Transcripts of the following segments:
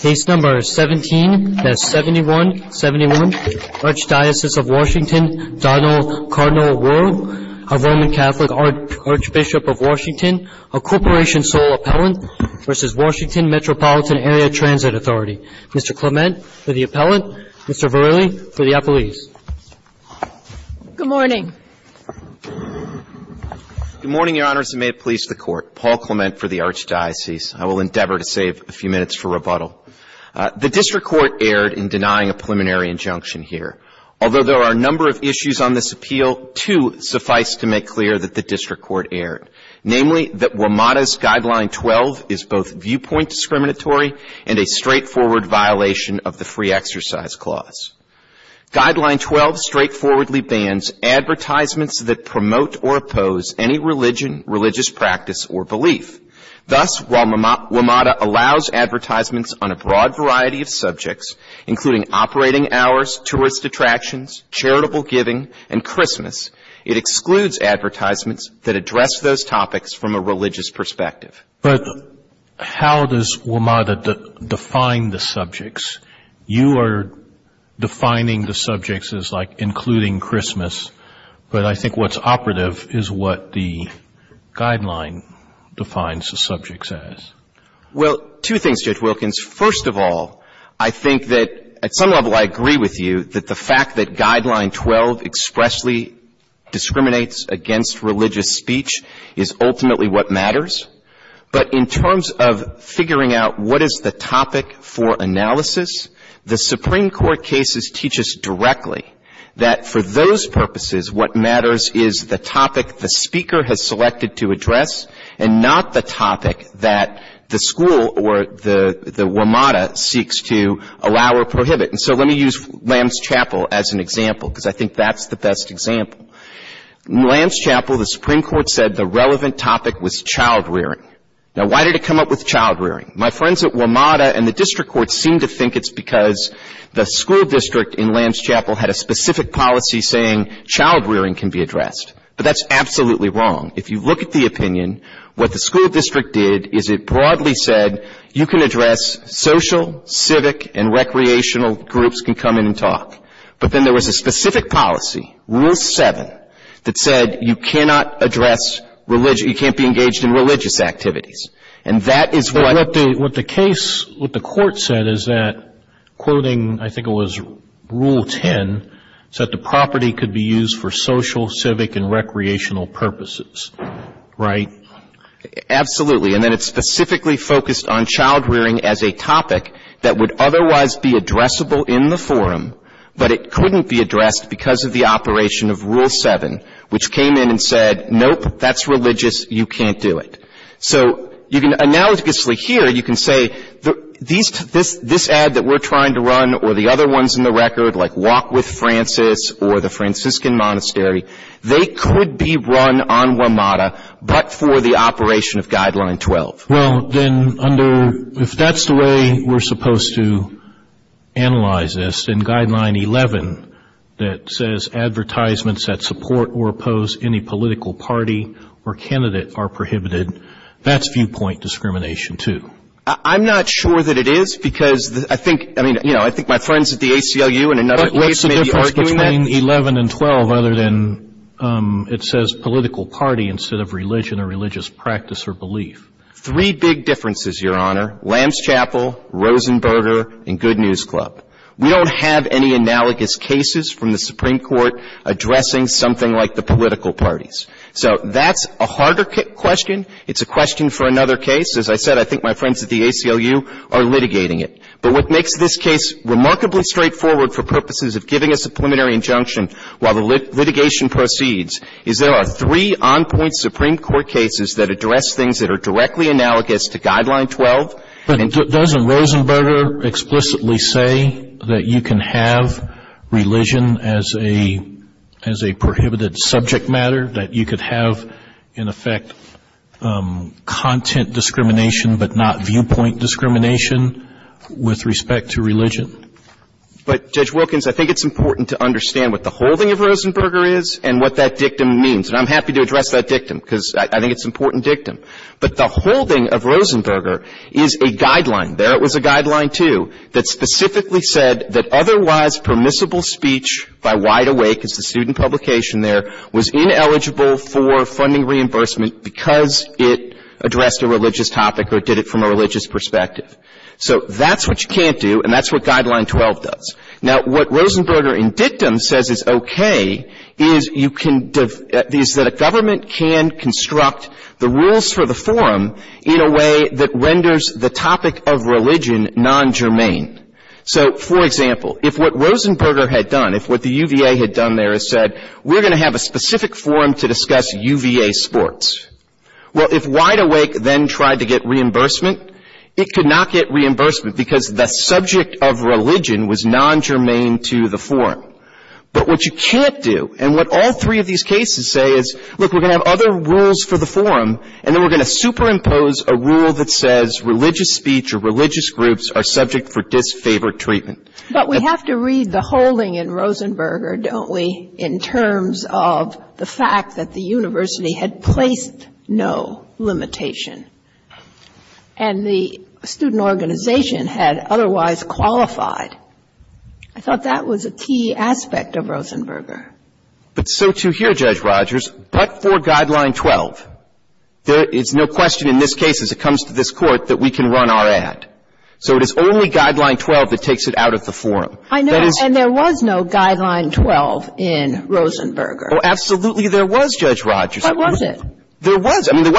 Case number 17-7171, Archdiocese of Washington, Donald Cardinal Wuerl, a Roman Catholic Archbishop of Washington, a corporation sole appellant, v. Washington Metropolitan Area Transit Authority. Mr. Clement for the appellant, Mr. Verlin for the appellees. Good morning. Good morning, Your Honors, and may it please the Court. Paul Clement for the Archdiocese. I will endeavor to save a few minutes for rebuttal. The District Court erred in denying a preliminary injunction here. Although there are a number of issues on this appeal, two suffice to make clear that the District Court erred. Namely, that WMATA's Guideline 12 is both viewpoint discriminatory and a straightforward violation of the Free Exercise Clause. Guideline 12 straightforwardly bans advertisements that promote or oppose any religion, religious practice, or belief. Thus, while WMATA allows advertisements on a broad variety of subjects, including operating hours, tourist attractions, charitable giving, and Christmas, it excludes advertisements that address those topics from a religious perspective. But how does WMATA define the subjects? You are defining the subjects as like including Christmas, but I think what's operative is what the Guideline defines the subjects as. Well, two things, Judge Wilkins. First of all, I think that at some level I agree with you that the fact that Guideline 12 expressly discriminates against religious speech is ultimately what matters. But in terms of figuring out what is the topic for analysis, the Supreme Court cases teach us directly that for those purposes what matters is the topic the speaker has selected to address and not the topic that the school or the WMATA seeks to allow or prohibit. And so let me use Lamb's Chapel as an example because I think that's the best example. In Lamb's Chapel, the Supreme Court said the relevant topic was child rearing. Now, why did it come up with child rearing? My friends at WMATA and the district courts seem to think it's because the school district in Lamb's Chapel had a specific policy saying child rearing can be addressed. But that's absolutely wrong. If you look at the opinion, what the school district did is it broadly said you can address social, civic, and recreational groups can come in and talk. But then there was a specific policy. Rule 7 that said you cannot address religious, you can't be engaged in religious activities. And that is why. What the case, what the court said is that, quoting I think it was Rule 10, said the property could be used for social, civic, and recreational purposes. Right? Absolutely. And then it specifically focused on child rearing as a topic that would otherwise be addressable in the forum, but it couldn't be addressed because of the operation of Rule 7, which came in and said, nope, that's religious, you can't do it. So you can analogously here, you can say this ad that we're trying to run or the other ones in the record, like Walk with Francis or the Franciscan Monastery, they could be run on WMATA, but for the operation of Guideline 12. Well, then under, if that's the way we're supposed to analyze this, then Guideline 11 that says advertisements that support or oppose any political party or candidate are prohibited, that's viewpoint discrimination, too. I'm not sure that it is because I think, I mean, you know, I think my friends at the ACLU in another case may be arguing that. What's the difference between 11 and 12 other than it says political party instead of religion or religious practice or belief? Three big differences, Your Honor. Lamb's Chapel, Rosenberger, and Good News Club. We don't have any analogous cases from the Supreme Court addressing something like the political parties. So that's a harder question. It's a question for another case. As I said, I think my friends at the ACLU are litigating it. But what makes this case remarkably straightforward for purposes of giving us a preliminary injunction while the litigation proceeds is there are three on-point Supreme Court cases that address things that are directly analogous to Guideline 12. But doesn't Rosenberger explicitly say that you can have religion as a prohibited subject matter, that you could have, in effect, content discrimination but not viewpoint discrimination with respect to religion? But, Judge Wilkins, I think it's important to understand what the holding of Rosenberger is and what that dictum means. And I'm happy to address that dictum because I think it's an important dictum. But the holding of Rosenberger is a guideline. There was a guideline, too, that specifically said that otherwise permissible speech by wide awake, as the student publication there, was ineligible for funding reimbursement because it addressed a religious topic or did it from a religious perspective. So that's what you can't do, and that's what Guideline 12 does. Now, what Rosenberger in dictum says is okay is that a government can construct the rules for the forum in a way that renders the topic of religion non-germane. So, for example, if what Rosenberger had done, if what the UVA had done there is said, we're going to have a specific forum to discuss UVA sports. Well, if wide awake then tried to get reimbursement, it could not get reimbursement because the subject of religion was non-germane to the forum. But what you can't do, and what all three of these cases say is, look, we're going to have other rules for the forum, and then we're going to superimpose a rule that says religious speech or religious groups are subject for disfavored treatment. But we have to read the holding in Rosenberger, don't we, in terms of the fact that the university had placed no limitation and the student organization had otherwise qualified. I thought that was a key aspect of Rosenberger. But so too here, Judge Rogers, but for Guideline 12. There is no question in this case as it comes to this court that we can run our ad. So it is only Guideline 12 that takes it out of the forum. I know, and there was no Guideline 12 in Rosenberger. Oh, absolutely there was, Judge Rogers. What was it? There was. I mean, it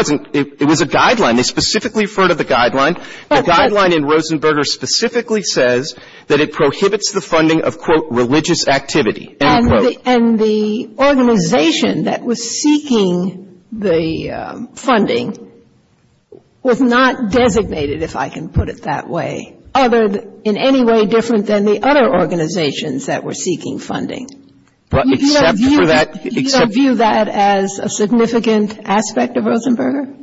was a guideline. They specifically referred to the guideline. The guideline in Rosenberger specifically says that it prohibits the funding of, quote, religious activity. And the organization that was seeking the funding was not designated, if I can put it that way, in any way different than the other organizations that were seeking funding. Do you view that as a significant aspect of Rosenberger?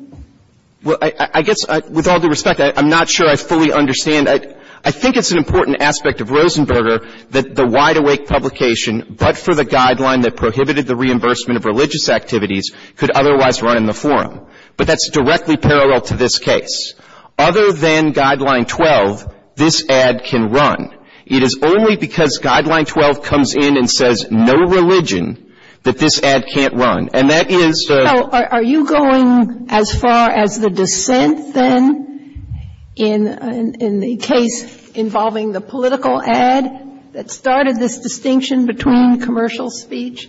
Well, I guess with all due respect, I'm not sure I fully understand. I think it's an important aspect of Rosenberger that the Wide Awake publication, but for the guideline that prohibited the reimbursement of religious activities, could otherwise run in the forum. But that's directly parallel to this case. Other than Guideline 12, this ad can run. It is only because Guideline 12 comes in and says no religion that this ad can't run. Are you going as far as the dissent then in the case involving the political ad that started this distinction between commercial speech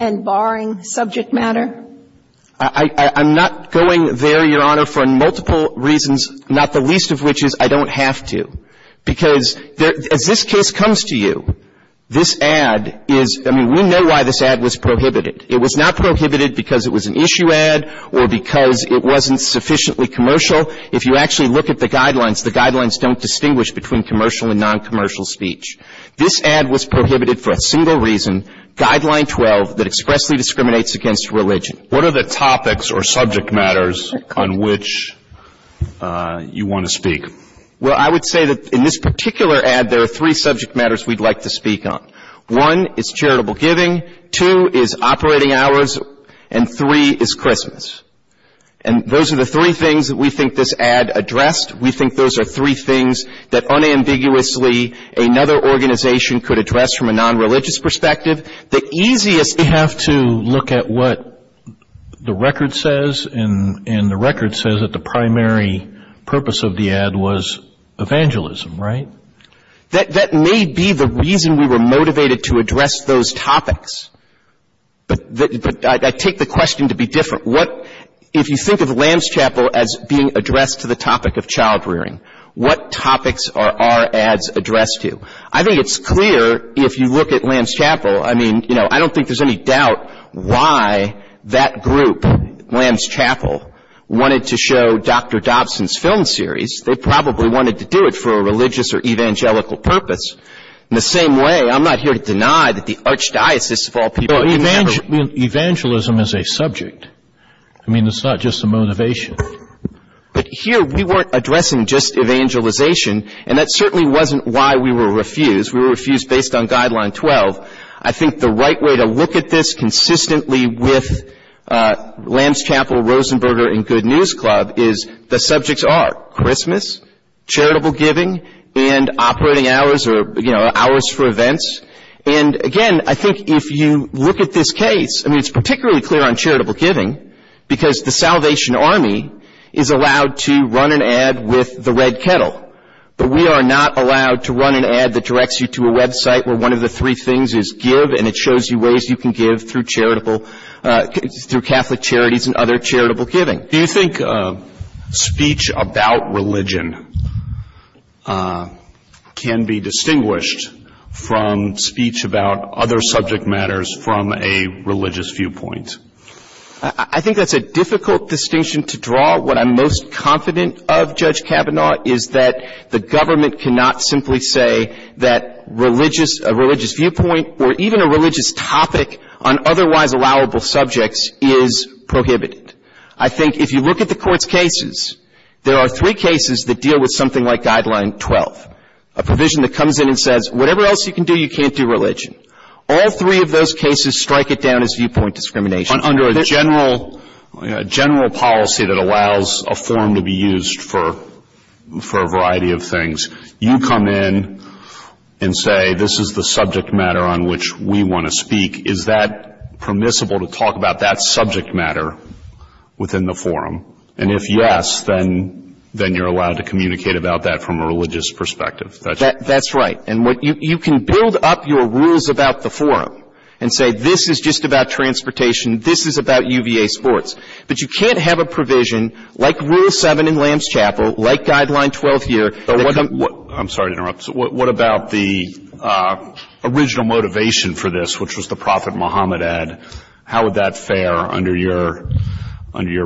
and barring subject matter? I'm not going there, Your Honor, for multiple reasons, not the least of which is I don't have to. Because if this case comes to you, this ad is, I mean, we know why this ad was prohibited. It was not prohibited because it was an issue ad or because it wasn't sufficiently commercial. If you actually look at the guidelines, the guidelines don't distinguish between commercial and noncommercial speech. This ad was prohibited for a single reason, Guideline 12, that expressly discriminates against religion. What are the topics or subject matters on which you want to speak? Well, I would say that in this particular ad there are three subject matters we'd like to speak on. One is charitable giving. Two is operating hours. And three is Christmas. And those are the three things that we think this ad addressed. We think those are three things that unambiguously another organization could address from a nonreligious perspective. We have to look at what the record says, and the record says that the primary purpose of the ad was evangelism, right? That may be the reason we were motivated to address those topics. But I take the question to be different. If you think of Lamb's Chapel as being addressed to the topic of child rearing, what topics are our ads addressed to? I think it's clear if you look at Lamb's Chapel. I mean, you know, I don't think there's any doubt why that group, Lamb's Chapel, wanted to show Dr. Dobson's film series. They probably wanted to do it for a religious or evangelical purpose. In the same way, I'm not here to deny that the archdiocese of all people. Evangelism is a subject. I mean, it's not just a motivation. But here we weren't addressing just evangelization, and that certainly wasn't why we were refused. We were refused based on Guideline 12. I think the right way to look at this consistently with Lamb's Chapel, Rosenberger, and Good News Club is the subjects are Christmas, charitable giving, and operating hours or, you know, hours for events. And, again, I think if you look at this case, I mean, it's particularly clear on charitable giving because the Salvation Army is allowed to run an ad with the Red Kettle. But we are not allowed to run an ad that directs you to a website where one of the three things is give and it shows you ways you can give through Catholic charities and other charitable giving. Do you think speech about religion can be distinguished from speech about other subject matters from a religious viewpoint? I think that's a difficult distinction to draw. What I'm most confident of, Judge Kavanaugh, is that the government cannot simply say that a religious viewpoint or even a religious topic on otherwise allowable subjects is prohibited. I think if you look at the Court's cases, there are three cases that deal with something like Guideline 12, a provision that comes in and says whatever else you can do, you can't do religion. All three of those cases strike it down as viewpoint discrimination. Under a general policy that allows a forum to be used for a variety of things, you come in and say this is the subject matter on which we want to speak. Is that permissible to talk about that subject matter within the forum? And if yes, then you're allowed to communicate about that from a religious perspective. That's right. You can build up your rules about the forum and say this is just about transportation, this is about UVA sports, but you can't have a provision like Rule 7 in Lambs Chapel, like Guideline 12 here. I'm sorry to interrupt. What about the original motivation for this, which was the Prophet Muhammad ad? How would that fare under your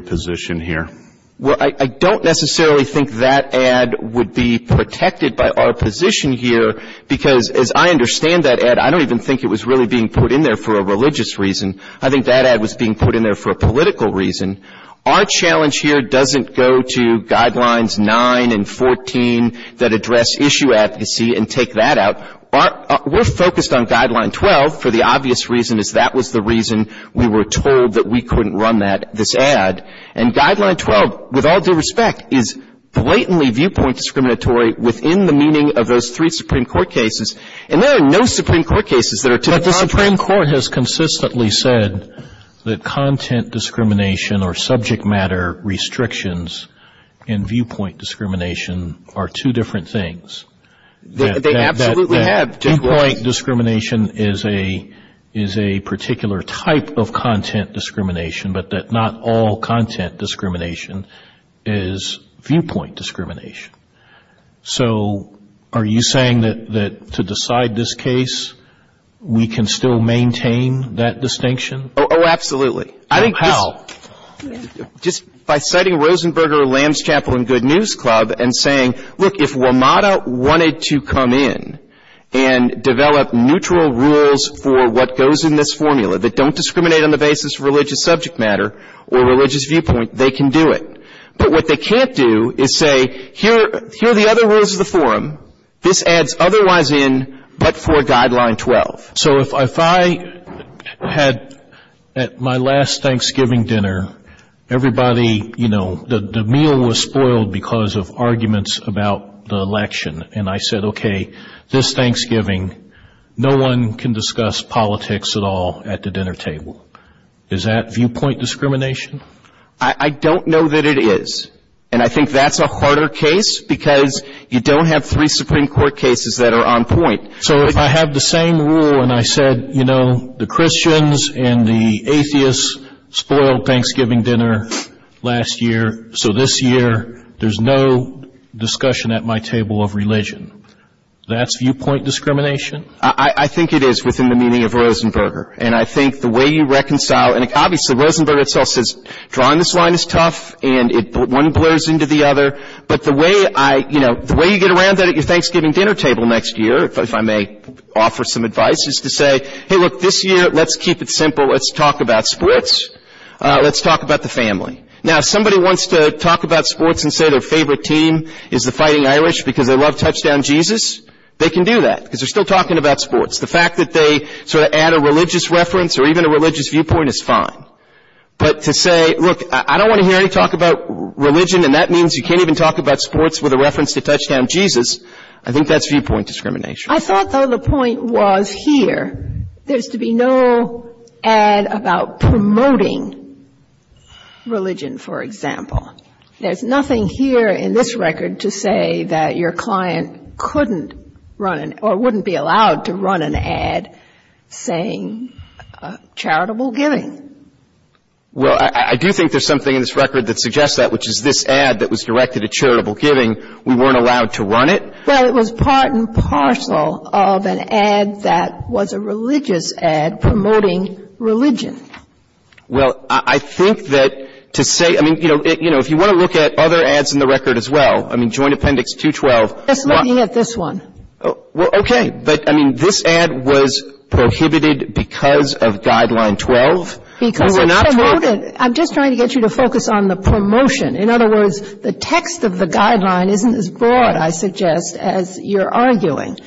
position here? I don't necessarily think that ad would be protected by our position here, because as I understand that ad, I don't even think it was really being put in there for a religious reason. I think that ad was being put in there for a political reason. Our challenge here doesn't go to Guidelines 9 and 14 that address issue advocacy and take that out. We're focused on Guideline 12 for the obvious reason that that was the reason we were told that we couldn't run this ad. And Guideline 12, with all due respect, is blatantly viewpoint discriminatory within the meaning of those three Supreme Court cases, and there are no Supreme Court cases that are too complex. But the Supreme Court has consistently said that content discrimination or subject matter restrictions and viewpoint discrimination are two different things. They absolutely have. Viewpoint discrimination is a particular type of content discrimination, but that not all content discrimination is viewpoint discrimination. So are you saying that to decide this case, we can still maintain that distinction? Oh, absolutely. How? Just by citing Rosenberger, Lamb's Chapel, and Good News Club and saying, look, if WMATA wanted to come in and develop neutral rules for what goes in this formula, that don't discriminate on the basis of religious subject matter or religious viewpoint, they can do it. But what they can't do is say, here are the other rules of the forum. This adds other ones in but for Guideline 12. So if I had at my last Thanksgiving dinner, everybody, you know, the meal was spoiled because of arguments about the election, and I said, okay, this Thanksgiving, no one can discuss politics at all at the dinner table. Is that viewpoint discrimination? I don't know that it is. And I think that's a harder case because you don't have three Supreme Court cases that are on point. So if I had the same rule and I said, you know, the Christians and the atheists spoiled Thanksgiving dinner last year, so this year there's no discussion at my table of religion. That's viewpoint discrimination? I think it is within the meaning of Rosenberger. And I think the way you reconcile, and obviously Rosenberger itself says drawing this line is tough, and one blurs into the other, but the way you get around that at your Thanksgiving dinner table next year, if I may offer some advice, is to say, hey, look, this year, let's keep it simple. Let's talk about sports. Let's talk about the family. Now, if somebody wants to talk about sports and say their favorite team is the Fighting Irish because they love Touchdown Jesus, they can do that because they're still talking about sports. The fact that they sort of add a religious reference or even a religious viewpoint is fine. But to say, look, I don't want to hear you talk about religion and that means you can't even talk about sports with a reference to Touchdown Jesus, I think that's viewpoint discrimination. I thought, though, the point was here, there's to be no add about promoting religion, for example. There's nothing here in this record to say that your client couldn't run or wouldn't be allowed to run an ad saying charitable giving. Well, I do think there's something in this record that suggests that, which is this ad that was directed at charitable giving, we weren't allowed to run it. Well, it was part and parcel of an ad that was a religious ad promoting religion. Well, I think that to say, I mean, you know, if you want to look at other ads in the record as well, I mean, Joint Appendix 212. Just looking at this one. Well, okay, but, I mean, this ad was prohibited because of Guideline 12. I'm just trying to get you to focus on the promotion. In other words, the text of the guideline isn't as broad, I suggest, as you're arguing.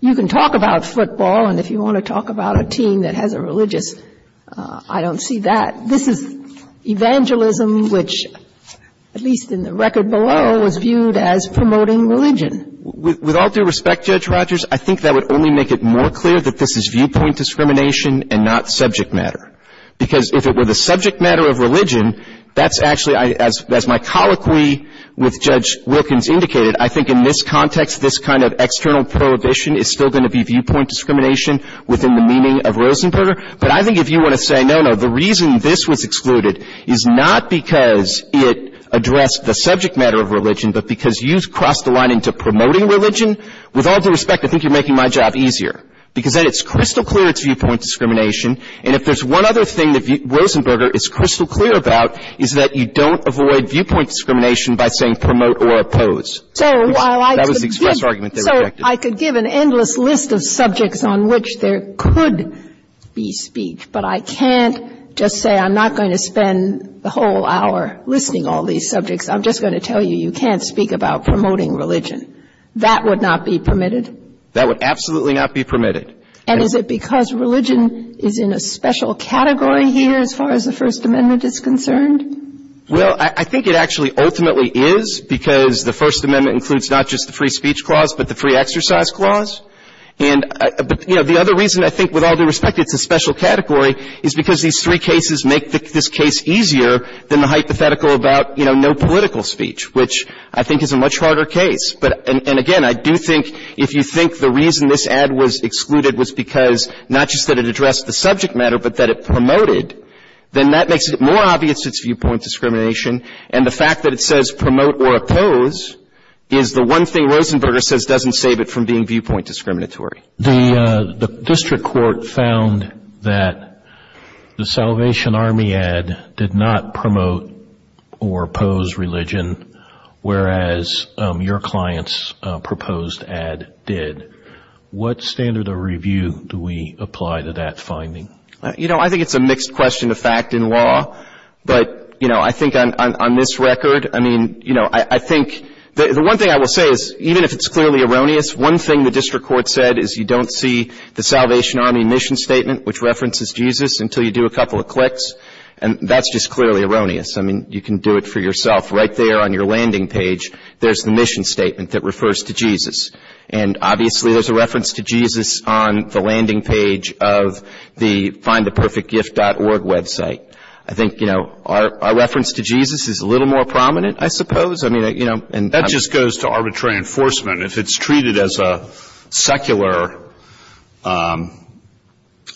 You can talk about football, and if you want to talk about a team that has a religious, I don't see that. This is evangelism, which, at least in the record below, is viewed as promoting religion. With all due respect, Judge Rogers, I think that would only make it more clear that this is viewpoint discrimination and not subject matter. Because if it were the subject matter of religion, that's actually, as my colloquy with Judge Wilkins indicated, I think in this context, this kind of external prohibition is still going to be viewpoint discrimination within the meaning of Rosenberger. But I think if you want to say, no, no, the reason this was excluded is not because it addressed the subject matter of religion, but because you've crossed the line into promoting religion. With all due respect, I think you're making my job easier. Because then it's crystal clear it's viewpoint discrimination. And if there's one other thing that Rosenberger is crystal clear about, is that you don't avoid viewpoint discrimination by saying promote or oppose. That was the express argument they rejected. So I could give an endless list of subjects on which there could be speech, but I can't just say I'm not going to spend the whole hour listing all these subjects. I'm just going to tell you you can't speak about promoting religion. That would not be permitted. That would absolutely not be permitted. And is it because religion is in a special category here as far as the First Amendment is concerned? Well, I think it actually ultimately is, because the First Amendment includes not just the free speech clause, but the free exercise clause. But the other reason I think, with all due respect, it's a special category, is because these three cases make this case easier than the hypothetical about no political speech, which I think is a much harder case. And again, I do think if you think the reason this ad was excluded was because not just that it addressed the subject matter, but that it promoted, then that makes it more obvious it's viewpoint discrimination. And the fact that it says promote or oppose is the one thing Rosenberger says doesn't save it from being viewpoint discriminatory. The district court found that the Salvation Army ad did not promote or oppose religion, whereas your client's proposed ad did. What standard of review do we apply to that finding? You know, I think it's a mixed question of fact and law. But, you know, I think on this record, I mean, you know, I think the one thing I will say is even if it's clearly erroneous, one thing the district court said is you don't see the Salvation Army mission statement, which references Jesus, until you do a couple of clicks. And that's just clearly erroneous. I mean, you can do it for yourself. Right there on your landing page, there's the mission statement that refers to Jesus. And, obviously, there's a reference to Jesus on the landing page of the findtheperfectgift.org website. I think, you know, our reference to Jesus is a little more prominent, I suppose. I mean, you know. That just goes to arbitrary enforcement. If it's treated as a secular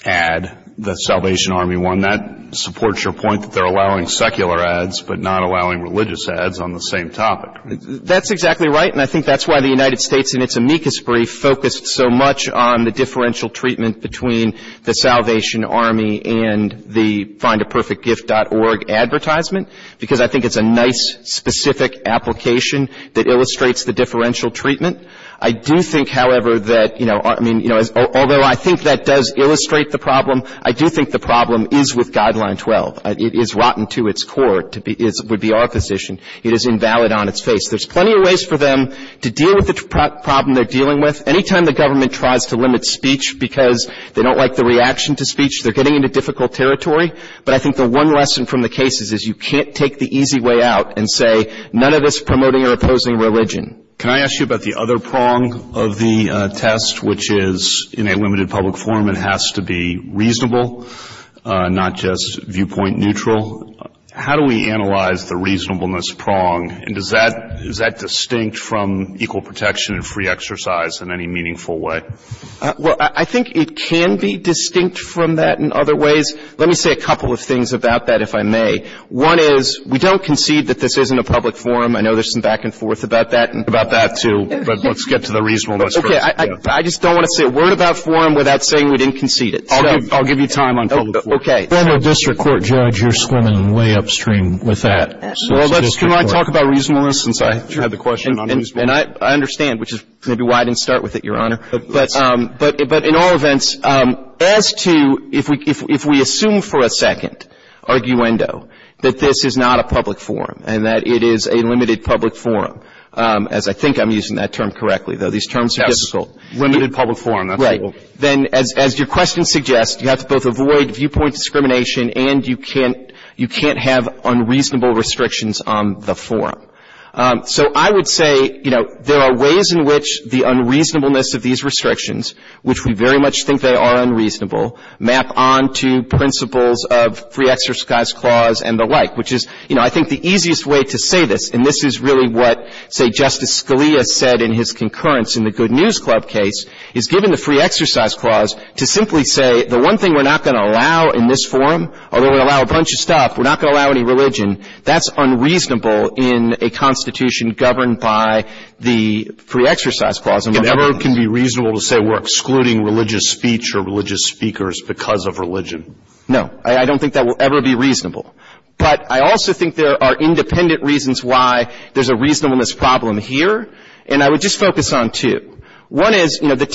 ad, the Salvation Army one, that supports your point that they're allowing secular ads but not allowing religious ads on the same topic. That's exactly right. And I think that's why the United States in its amicus brief focused so much on the differential treatment between the Salvation Army and the findtheperfectgift.org advertisement, because I think it's a nice, specific application that illustrates the differential treatment. I do think, however, that, you know, although I think that does illustrate the problem, I do think the problem is with Guideline 12. It is rotten to its core, would be our position. It is invalid on its face. There's plenty of ways for them to deal with the problem they're dealing with. Any time the government tries to limit speech because they don't like the reaction to speech, they're getting into difficult territory. But I think the one lesson from the case is you can't take the easy way out and say, none of this promoting or opposing religion. Can I ask you about the other prong of the test, which is in a limited public forum, it has to be reasonable, not just viewpoint neutral. How do we analyze the reasonableness prong, and is that distinct from equal protection and free exercise in any meaningful way? Well, I think it can be distinct from that in other ways. Let me say a couple of things about that, if I may. One is we don't concede that this isn't a public forum. I know there's some back and forth about that. About that, too. But let's get to the reasonableness first. Okay. I just don't want to say a word about forum without saying we didn't concede it. I'll give you time on public forum. Okay. Formal district court judge, you're swimming way upstream with that. Can I talk about reasonableness since I had the question on reasonableness? And I understand, which is maybe why I didn't start with it, Your Honor. But in all events, as to if we assume for a second, arguendo, that this is not a public forum and that it is a limited public forum, as I think I'm using that term correctly, though these terms are difficult. Limited public forum. Right. Then as your question suggests, you have to both avoid viewpoint discrimination and you can't have unreasonable restrictions on the forum. So I would say, you know, there are ways in which the unreasonableness of these restrictions, which we very much think they are unreasonable, map onto principles of free exercise clause and the like, which is, you know, I think the easiest way to say this, and this is really what, say, Justice Scalia said in his concurrence in the Good News Club case, is given the free exercise clause to simply say, the one thing we're not going to allow in this forum, although we allow a bunch of stuff, we're not going to allow any religion, that's unreasonable in a constitution governed by the free exercise clause. It never can be reasonable to say we're excluding religious speech or religious speakers because of religion. No. I don't think that will ever be reasonable. But I also think there are independent reasons why there's a reasonableness problem here, and I would just focus on two. One is, you know, forum.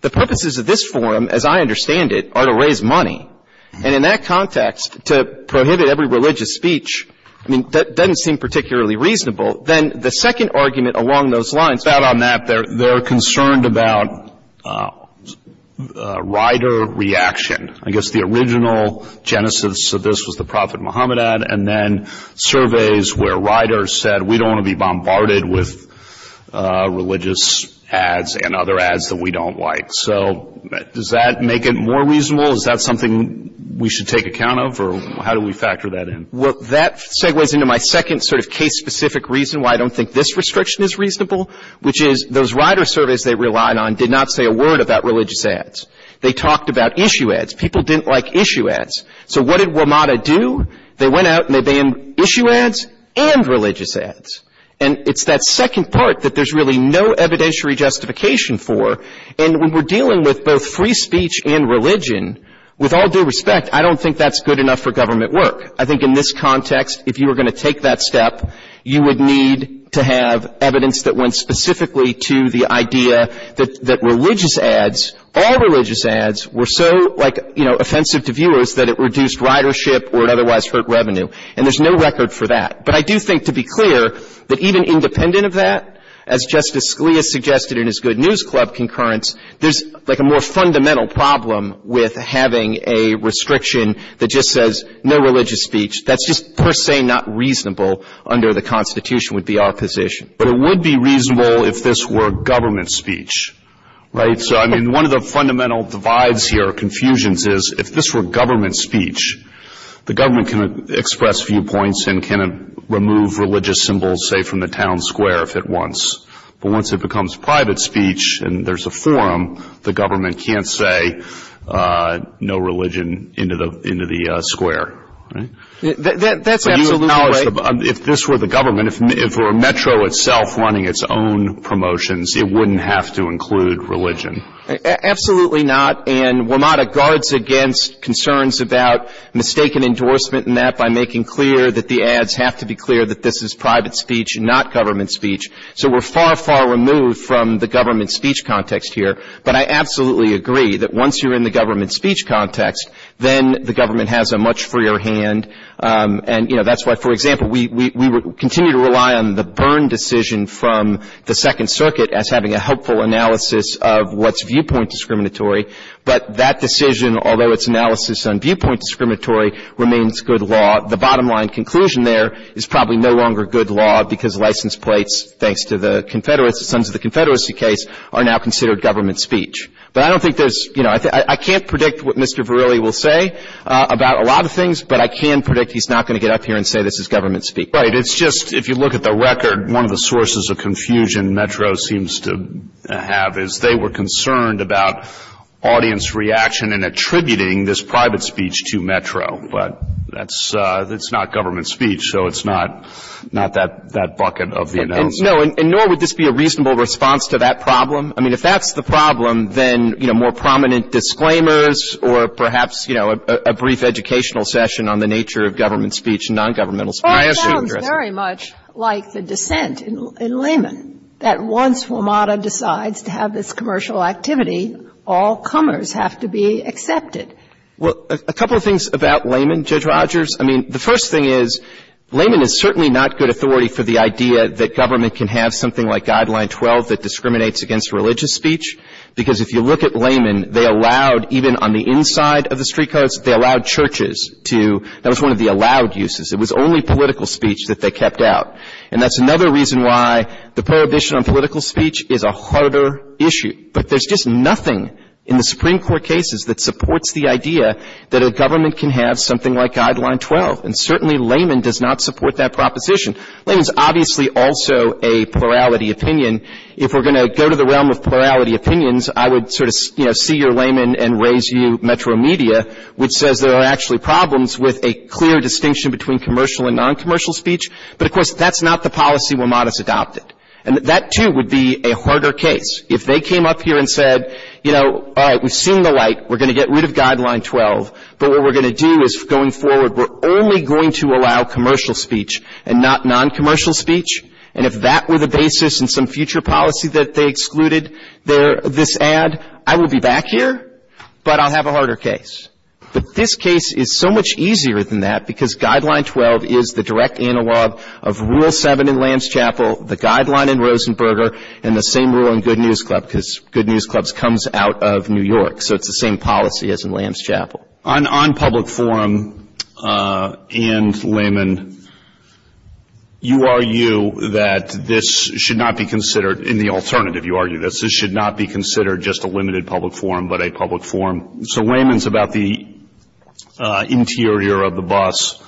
The purposes of this forum, as I understand it, are to raise money. And in that context, to prohibit every religious speech, I mean, that doesn't seem particularly reasonable. Then the second argument along those lines. Based on that, they're concerned about rider reaction. I guess the original genesis of this was the Prophet Muhammad ad, and then surveys where riders said, we don't want to be bombarded with religious ads and other ads that we don't like. So does that make it more reasonable? Is that something we should take account of? Or how do we factor that in? Well, that segues into my second sort of case-specific reason why I don't think this restriction is reasonable, which is those rider surveys they relied on did not say a word about religious ads. They talked about issue ads. People didn't like issue ads. So what did WMATA do? They went out and they banned issue ads and religious ads. And it's that second part that there's really no evidentiary justification for. And when we're dealing with both free speech and religion, with all due respect, I don't think that's good enough for government work. I think in this context, if you were going to take that step, you would need to have evidence that went specifically to the idea that religious ads, all religious ads, were so, like, you know, And there's no record for that. But I do think, to be clear, that even independent of that, as Justice Scalia suggested in his Good News Club concurrence, there's, like, a more fundamental problem with having a restriction that just says no religious speech. That's just per se not reasonable under the Constitution with the opposition. But it would be reasonable if this were government speech, right? So, I mean, one of the fundamental divides here, confusions, is if this were government speech, the government can express viewpoints and can remove religious symbols, say, from the town square if it wants. But once it becomes private speech and there's a forum, the government can't say no religion into the square. That's absolutely right. If this were the government, if it were Metro itself running its own promotions, it wouldn't have to include religion. Absolutely not. And WMATA guards against concerns about mistaken endorsement and that by making clear that the ads have to be clear that this is private speech, not government speech. So we're far, far removed from the government speech context here. But I absolutely agree that once you're in the government speech context, then the government has a much freer hand. And, you know, that's why, for example, we continue to rely on the Byrne decision from the Second Circuit as having a helpful analysis of what's viewpoint discriminatory. But that decision, although it's analysis on viewpoint discriminatory, remains good law. The bottom-line conclusion there is probably no longer good law because license plates, thanks to the Confederates, some of the Confederacy case are now considered government speech. But I don't think there's, you know, I can't predict what Mr. Verrilli will say about a lot of things, but I can predict he's not going to get up here and say this is government speech. Right, it's just if you look at the record, one of the sources of confusion Metro seems to have is they were concerned about audience reaction in attributing this private speech to Metro. But that's not government speech, so it's not that bucket of the analysis. No, and nor would this be a reasonable response to that problem. I mean, if that's the problem, then, you know, more prominent disclaimers or perhaps, you know, a brief educational session on the nature of government speech and non-governmental speech. It sounds very much like the dissent in Lehman, that once WMATA decides to have this commercial activity, all comers have to be accepted. Well, a couple of things about Lehman, Judge Rogers. I mean, the first thing is Lehman is certainly not good authority for the idea that government can have something like Guideline 12 that discriminates against religious speech because if you look at Lehman, they allowed, even on the inside of the street codes, they allowed churches to, that was one of the allowed uses. It was only political speech that they kept out, and that's another reason why the prohibition on political speech is a harder issue. But there's just nothing in the Supreme Court cases that supports the idea that a government can have something like Guideline 12, and certainly Lehman does not support that proposition. Lehman's obviously also a plurality opinion. If we're going to go to the realm of plurality opinions, I would sort of, you know, see your Lehman and raise you Metro Media, which says there are actually problems with a clear distinction between commercial and noncommercial speech, but, of course, that's not the policy. We'll not adopt it. And that, too, would be a harder case. If they came up here and said, you know, all right, we've seen the light. We're going to get rid of Guideline 12, but what we're going to do is going forward, we're only going to allow commercial speech and not noncommercial speech, and if that were the basis in some future policy that they excluded this ad, I would be back here, but I'll have a harder case. But this case is so much easier than that, because Guideline 12 is the direct analog of Rule 7 in Lanschapel, the Guideline in Rosenberger, and the same rule in Good News Club, because Good News Club comes out of New York, so it's the same policy as in Lanschapel. On public forum and Lehman, you argue that this should not be considered, in the alternative, you argue that this should not be considered just a limited public forum but a public forum. So Lehman's about the interior of the bus.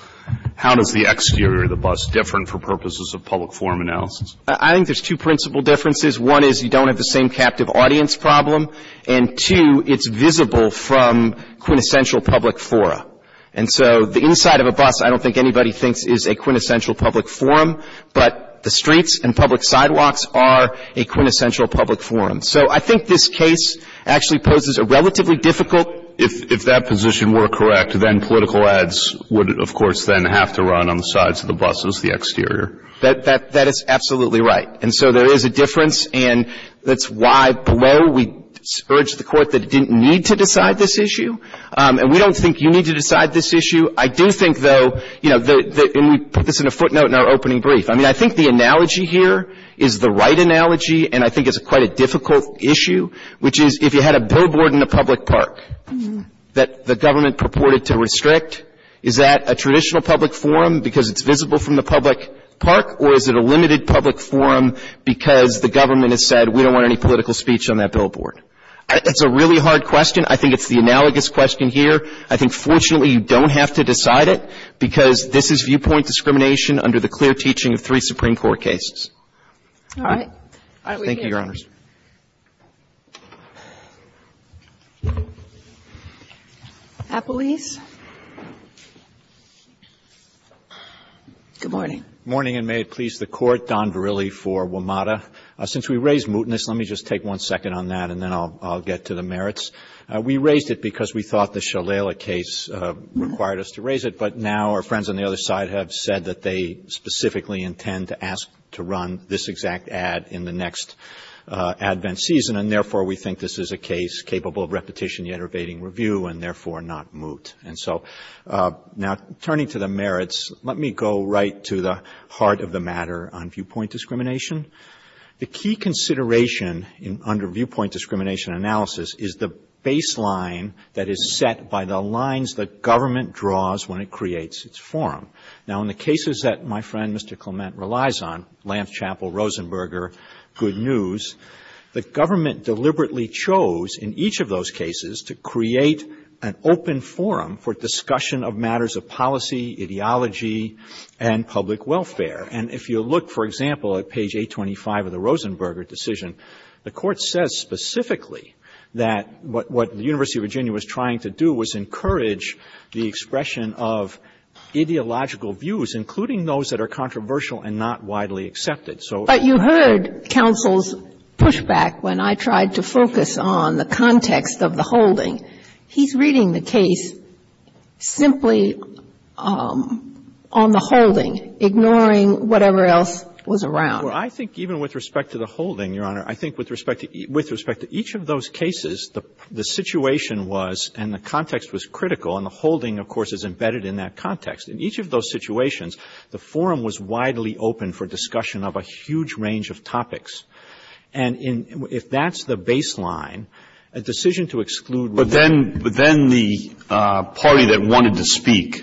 How does the exterior of the bus differ for purposes of public forum analysis? I think there's two principal differences. One is you don't have the same captive audience problem, and two, it's visible from quintessential public fora. And so the inside of a bus I don't think anybody thinks is a quintessential public forum, but the streets and public sidewalks are a quintessential public forum. So I think this case actually poses a relatively difficult. If that position were correct, then political ads would, of course, then have to run on the sides of the buses, the exterior. That is absolutely right. And so there is a difference, and that's why below we urged the court that it didn't need to decide this issue, and we don't think you need to decide this issue. I do think, though, and we put this in a footnote in our opening brief. I mean, I think the analogy here is the right analogy, and I think it's quite a difficult issue, which is if you had a billboard in a public park that the government purported to restrict, is that a traditional public forum because it's visible from the public park, or is it a limited public forum because the government has said we don't want any political speech on that billboard? It's a really hard question. I think it's the analogous question here. I think, fortunately, you don't have to decide it, because this is viewpoint discrimination under the clear teaching of three Supreme Court cases. All right. Thank you, Your Honors. Good morning. Good morning, and may it please the Court, Don Verrilli for WMATA. Since we raised mootness, let me just take one second on that, and then I'll get to the merits. We raised it because we thought the Shalala case required us to raise it, but now our friends on the other side have said that they specifically intend to ask to run this exact ad in the next advent season, and therefore we think this is a case capable of repetition, yet evading review, and therefore not moot. And so now turning to the merits, let me go right to the heart of the matter on viewpoint discrimination. The key consideration under viewpoint discrimination analysis is the baseline that is set by the lines the government draws when it creates its forum. Now, in the cases that my friend, Mr. Clement, relies on, Lanschapel, Rosenberger, Good News, the government deliberately chose in each of those cases to create an open forum for discussion of matters of policy, ideology, and public welfare. And if you look, for example, at page 825 of the Rosenberger decision, the Court says specifically that what the University of Virginia was trying to do was encourage the expression of ideological views, including those that are controversial and not widely accepted. But you heard counsel's pushback when I tried to focus on the context of the holding. He's reading the case simply on the holding, ignoring whatever else was around. Well, I think even with respect to the holding, Your Honor, I think with respect to each of those cases, the situation was, and the context was critical, and the holding, of course, is embedded in that context. In each of those situations, the forum was widely open for discussion of a huge range of topics. And if that's the baseline, a decision to exclude- But then the party that wanted to speak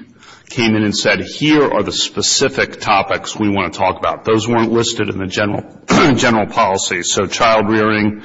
came in and said, here are the specific topics we want to talk about. Those weren't listed in the general policy. So child-rearing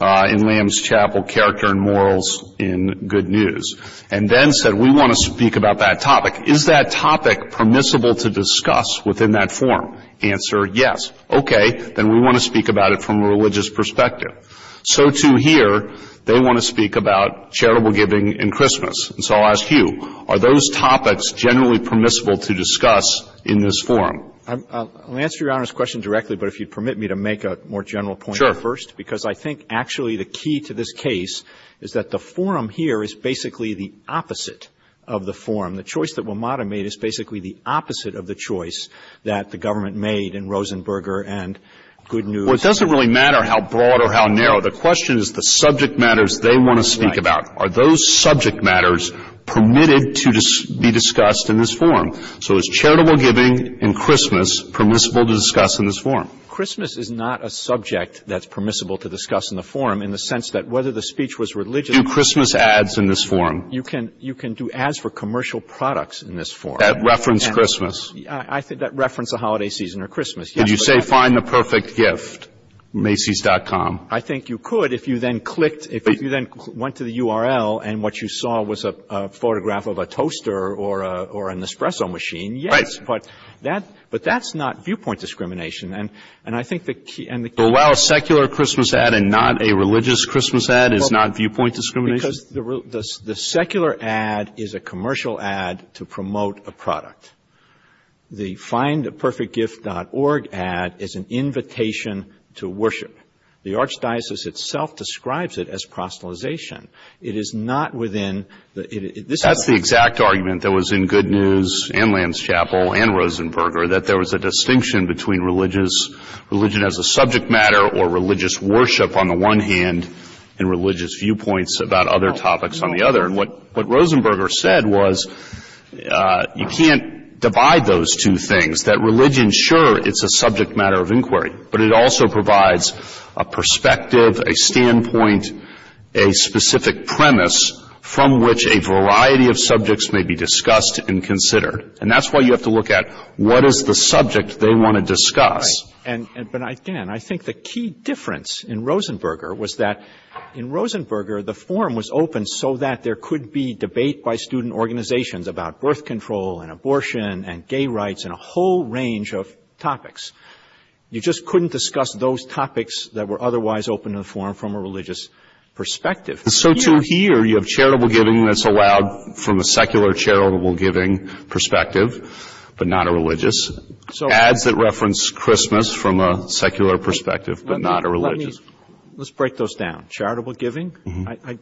in Lanschapel, character and morals in Good News. And then said, we want to speak about that topic. Is that topic permissible to discuss within that forum? Answer, yes. Okay, then we want to speak about it from a religious perspective. So, too, here, they want to speak about charitable giving and Christmas. And so I'll ask you, are those topics generally permissible to discuss in this forum? I'll answer Your Honor's question directly, but if you'd permit me to make a more general point first. Sure. Because I think actually the key to this case is that the forum here is basically the opposite of the forum. The choice that WMATA made is basically the opposite of the choice that the government made in Rosenberger and Good News. Well, it doesn't really matter how broad or how narrow. The question is the subject matters they want to speak about. Are those subject matters permitted to be discussed in this forum? So is charitable giving and Christmas permissible to discuss in this forum? Christmas is not a subject that's permissible to discuss in the forum in the sense that whether the speech was religious- Do Christmas ads in this forum? You can do ads for commercial products in this forum. That reference Christmas? That reference a holiday season or Christmas, yes. Did you say find the perfect gift, Macy's.com? I think you could if you then clicked, if you then went to the URL and what you saw was a photograph of a toaster or an espresso machine, yes. Right. But that's not viewpoint discrimination. And I think the key- To allow a secular Christmas ad and not a religious Christmas ad is not viewpoint discrimination? Because the secular ad is a commercial ad to promote a product. The findtheperfectgift.org ad is an invitation to worship. The Archdiocese itself describes it as proselytization. It is not within- That's the exact argument that was in Good News and Land's Chapel and Rosenberger, that there was a distinction between religion as a subject matter or religious worship on the one hand and religious viewpoints about other topics on the other. And what Rosenberger said was you can't divide those two things, that religion, sure, it's a subject matter of inquiry, but it also provides a perspective, a standpoint, a specific premise from which a variety of subjects may be discussed and considered. And that's why you have to look at what is the subject they want to discuss. But, again, I think the key difference in Rosenberger was that in Rosenberger, the forum was open so that there could be debate by student organizations about birth control and abortion and gay rights and a whole range of topics. You just couldn't discuss those topics that were otherwise open to the forum from a religious perspective. So, too, here you have charitable giving that's allowed from a secular charitable giving perspective but not a religious. Ads that reference Christmas from a secular perspective but not a religious. Let's break those down. Charitable giving? I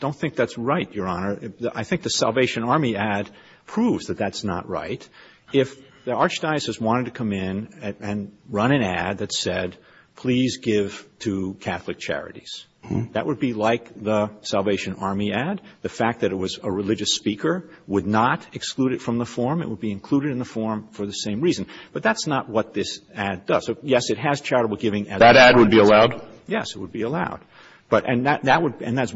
don't think that's right, Your Honor. I think the Salvation Army ad proves that that's not right. If the Archdiocese wanted to come in and run an ad that said, please give to Catholic charities, that would be like the Salvation Army ad. The fact that it was a religious speaker would not exclude it from the forum. It would be included in the forum for the same reason. But that's not what this ad does. Yes, it has charitable giving. That ad would be allowed? Yes, it would be allowed. And as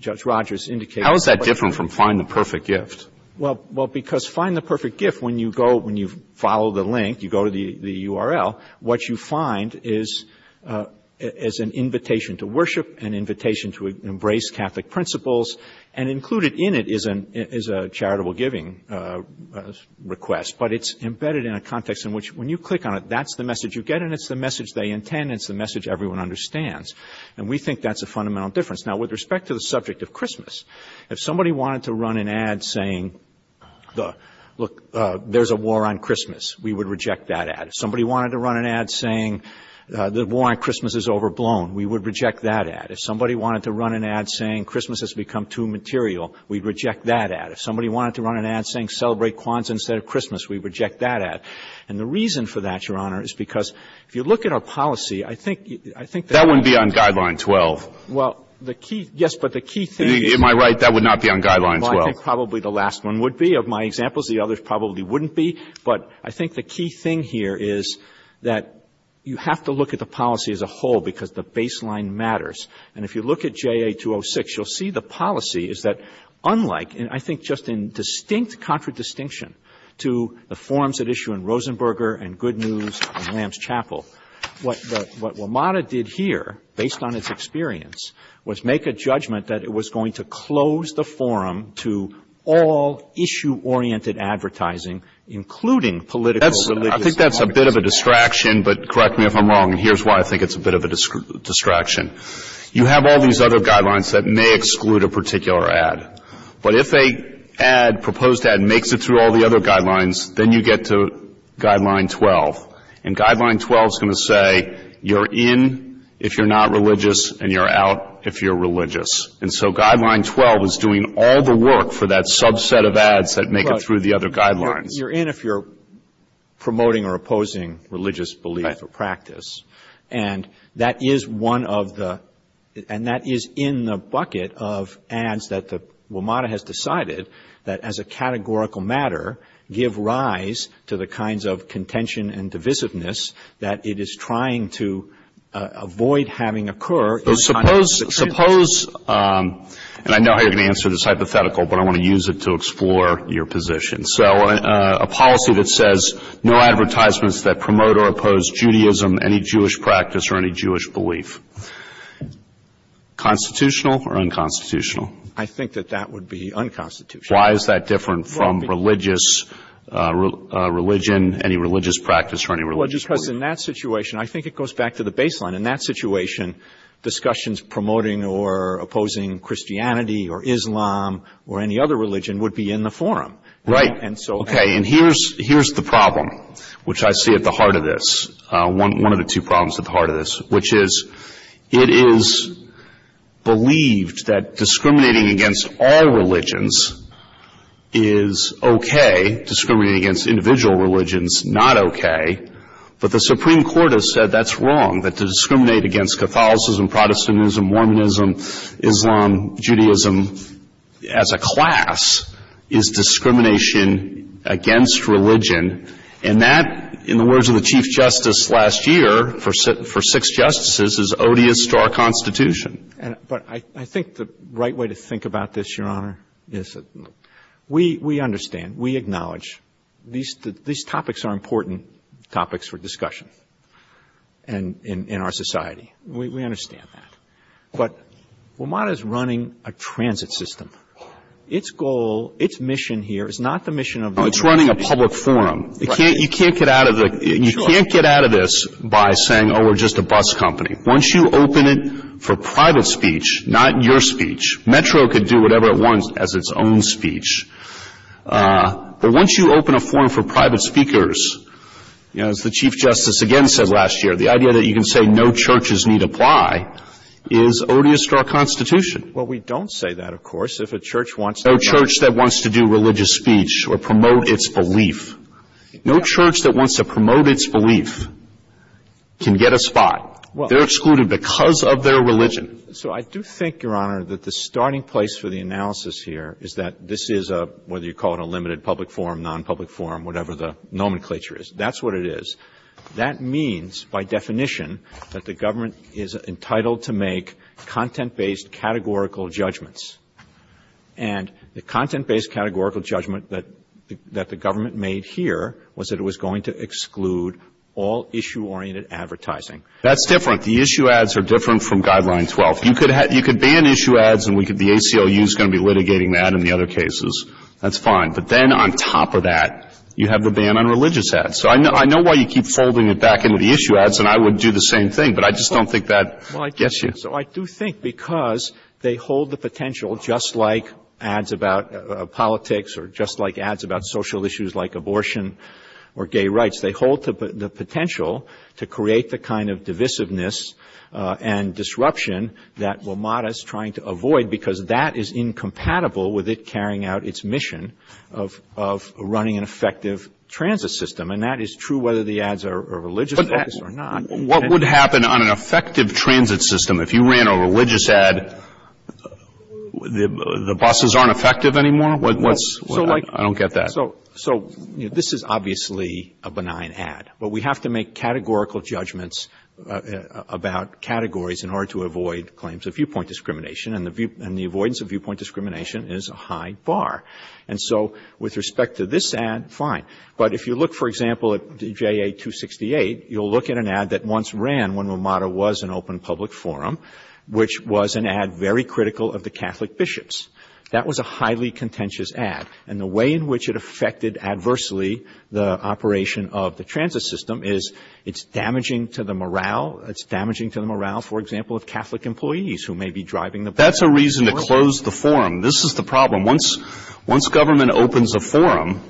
Judge Rogers indicated. How is that different from find the perfect gift? Well, because find the perfect gift, when you follow the link, you go to the URL, what you find is an invitation to worship, an invitation to embrace Catholic principles, and included in it is a charitable giving request. But it's embedded in a context in which when you click on it, that's the message you get, and it's the message they intend and it's the message everyone understands. And we think that's a fundamental difference. Now, with respect to the subject of Christmas, if somebody wanted to run an ad saying, look, there's a war on Christmas, we would reject that ad. If somebody wanted to run an ad saying the war on Christmas is overblown, we would reject that ad. If somebody wanted to run an ad saying Christmas has become too material, we'd reject that ad. If somebody wanted to run an ad saying celebrate Kwanzaa instead of Christmas, we'd reject that ad. And the reason for that, Your Honor, is because if you look at our policy, I think that That wouldn't be on Guideline 12. Well, the key, yes, but the key thing Am I right, that would not be on Guideline 12? I think probably the last one would be. Of my examples, the others probably wouldn't be. But I think the key thing here is that you have to look at the policy as a whole because the baseline matters. And if you look at JA 206, you'll see the policy is that unlike, and I think just in distinct contradistinction to the forms at issue in Rosenberger and Good News and Lamb's Chapel, what WMATA did here, based on its experience, was make a judgment that it was going to close the forum to all issue-oriented advertising, including political, religious... I think that's a bit of a distraction, but correct me if I'm wrong. Here's why I think it's a bit of a distraction. You have all these other guidelines that may exclude a particular ad. But if a proposed ad makes it through all the other guidelines, then you get to Guideline 12. And Guideline 12 is going to say you're in if you're not religious and you're out if you're religious. And so Guideline 12 is doing all the work for that subset of ads that make it through the other guidelines. You're in if you're promoting or opposing religious belief or practice. And that is one of the... And that is in the bucket of ads that WMATA has decided that as a categorical matter, give rise to the kinds of contention and divisiveness that it is trying to avoid having occur. Suppose, and I know how you're going to answer this hypothetical, but I want to use it to explore your position. So a policy that says no advertisements that promote or oppose Judaism, any Jewish practice, or any Jewish belief. Constitutional or unconstitutional? I think that that would be unconstitutional. Why is that different from religious religion, any religious practice, or any religious belief? Well, because in that situation, I think it goes back to the baseline. In that situation, discussions promoting or opposing Christianity or Islam or any other religion would be in the forum. Right. Okay. And here's the problem, which I see at the heart of this. One of the two problems at the heart of this, which is it is believed that discriminating against all religions is okay. Discriminating against individual religions, not okay. But the Supreme Court has said that's wrong. That to discriminate against Catholicism, Protestantism, Mormonism, Islam, Judaism, as a class, is discrimination against religion. And that, in the words of the Chief Justice last year, for six Justices, is odious to our Constitution. But I think the right way to think about this, Your Honor, is that we understand, we acknowledge, these topics are important topics for discussion in our society. We understand that. But WMATA is running a transit system. Its goal, its mission here is not the mission of the- No, it's running a public forum. You can't get out of this by saying, oh, we're just a bus company. Once you open it for private speech, not your speech, Metro could do whatever it wants as its own speech. But once you open a forum for private speakers, as the Chief Justice again said last year, the idea that you can say no churches need apply is odious to our Constitution. Well, we don't say that, of course, if a church wants to- No church that wants to promote its belief can get a spot. They're excluded because of their religion. So I do think, Your Honor, that the starting place for the analysis here is that this is a, whether you call it a limited public forum, non-public forum, whatever the nomenclature is, that's what it is. That means, by definition, that the government is entitled to make content-based categorical judgments. And the content-based categorical judgment that the government made here was that it was going to exclude all issue-oriented advertising. That's different. The issue ads are different from Guideline 12. You could ban issue ads, and the ACLU is going to be litigating that in the other cases. That's fine. But then on top of that, you have the ban on religious ads. So I know why you keep folding it back into the issue ads, and I would do the same thing, but I just don't think that gets you. So I do think because they hold the potential, just like ads about politics or just like ads about social issues like abortion or gay rights, they hold the potential to create the kind of divisiveness and disruption that WMATA is trying to avoid because that is incompatible with it carrying out its mission of running an effective transit system. And that is true whether the ads are religious or not. What would happen on an effective transit system if you ran a religious ad? The buses aren't effective anymore? I don't get that. So this is obviously a benign ad, but we have to make categorical judgments about categories in order to avoid claims of viewpoint discrimination, and the avoidance of viewpoint discrimination is a high bar. And so with respect to this ad, fine. But if you look, for example, at J.A. 268, you'll look at an ad that once ran when WMATA was an open public forum, which was an ad very critical of the Catholic bishops. That was a highly contentious ad, and the way in which it affected adversely the operation of the transit system is it's damaging to the morale. It's damaging to the morale, for example, of Catholic employees who may be driving the buses. That's a reason to close the forum. This is the problem. Once government opens a forum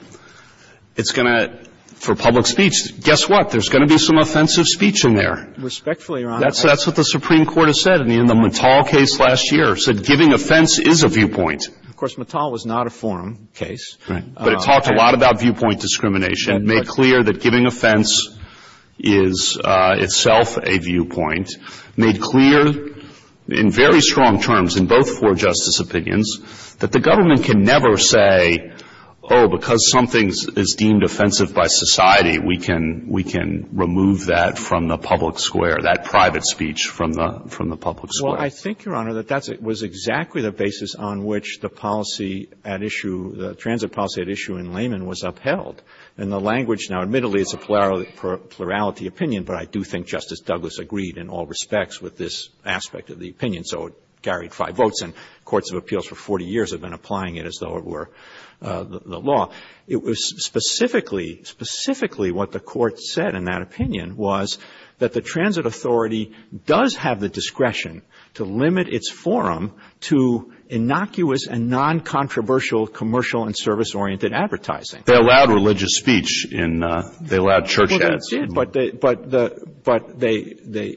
for public speech, guess what? There's going to be some offensive speech in there. Respectfully, Your Honor. That's what the Supreme Court has said in the Mattal case last year. It said giving offense is a viewpoint. Of course, Mattal was not a forum case. But it talked a lot about viewpoint discrimination. It made clear that giving offense is itself a viewpoint. It made clear in very strong terms in both four justice opinions that the government can never say, oh, because something is deemed offensive by society, we can remove that from the public square, that private speech from the public square. Well, I think, Your Honor, that that was exactly the basis on which the policy at issue, the transit policy at issue in Lehman was upheld. And the language now, admittedly, it's a plurality opinion, but I do think Justice Douglas agreed in all respects with this aspect of the opinion. So it carried five votes, and courts of appeals for 40 years have been applying it as though it were the law. It was specifically, specifically what the court said in that opinion was that the transit authority does have the discretion to limit its forum to innocuous and non-controversial commercial and service-oriented advertising. They allowed religious speech. They allowed church ads. But they,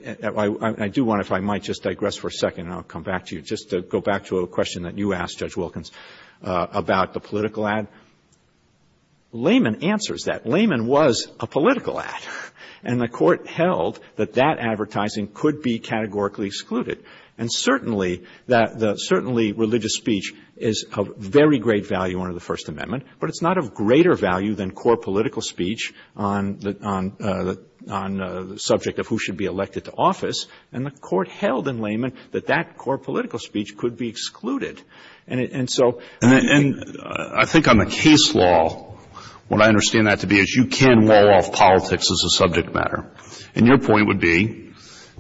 I do wonder if I might just digress for a second, and I'll come back to you, just to go back to a question that you asked, Judge Wilkins, about the political ad. Lehman answers that. Lehman was a political ad, and the court held that that advertising could be categorically excluded. And certainly, religious speech is of very great value under the First Amendment, but it's not of greater value than core political speech on the subject of who should be elected to office. And the court held in Lehman that that core political speech could be excluded. And so I think on the case law, what I understand that to be is you can wall off politics as a subject matter. And your point would be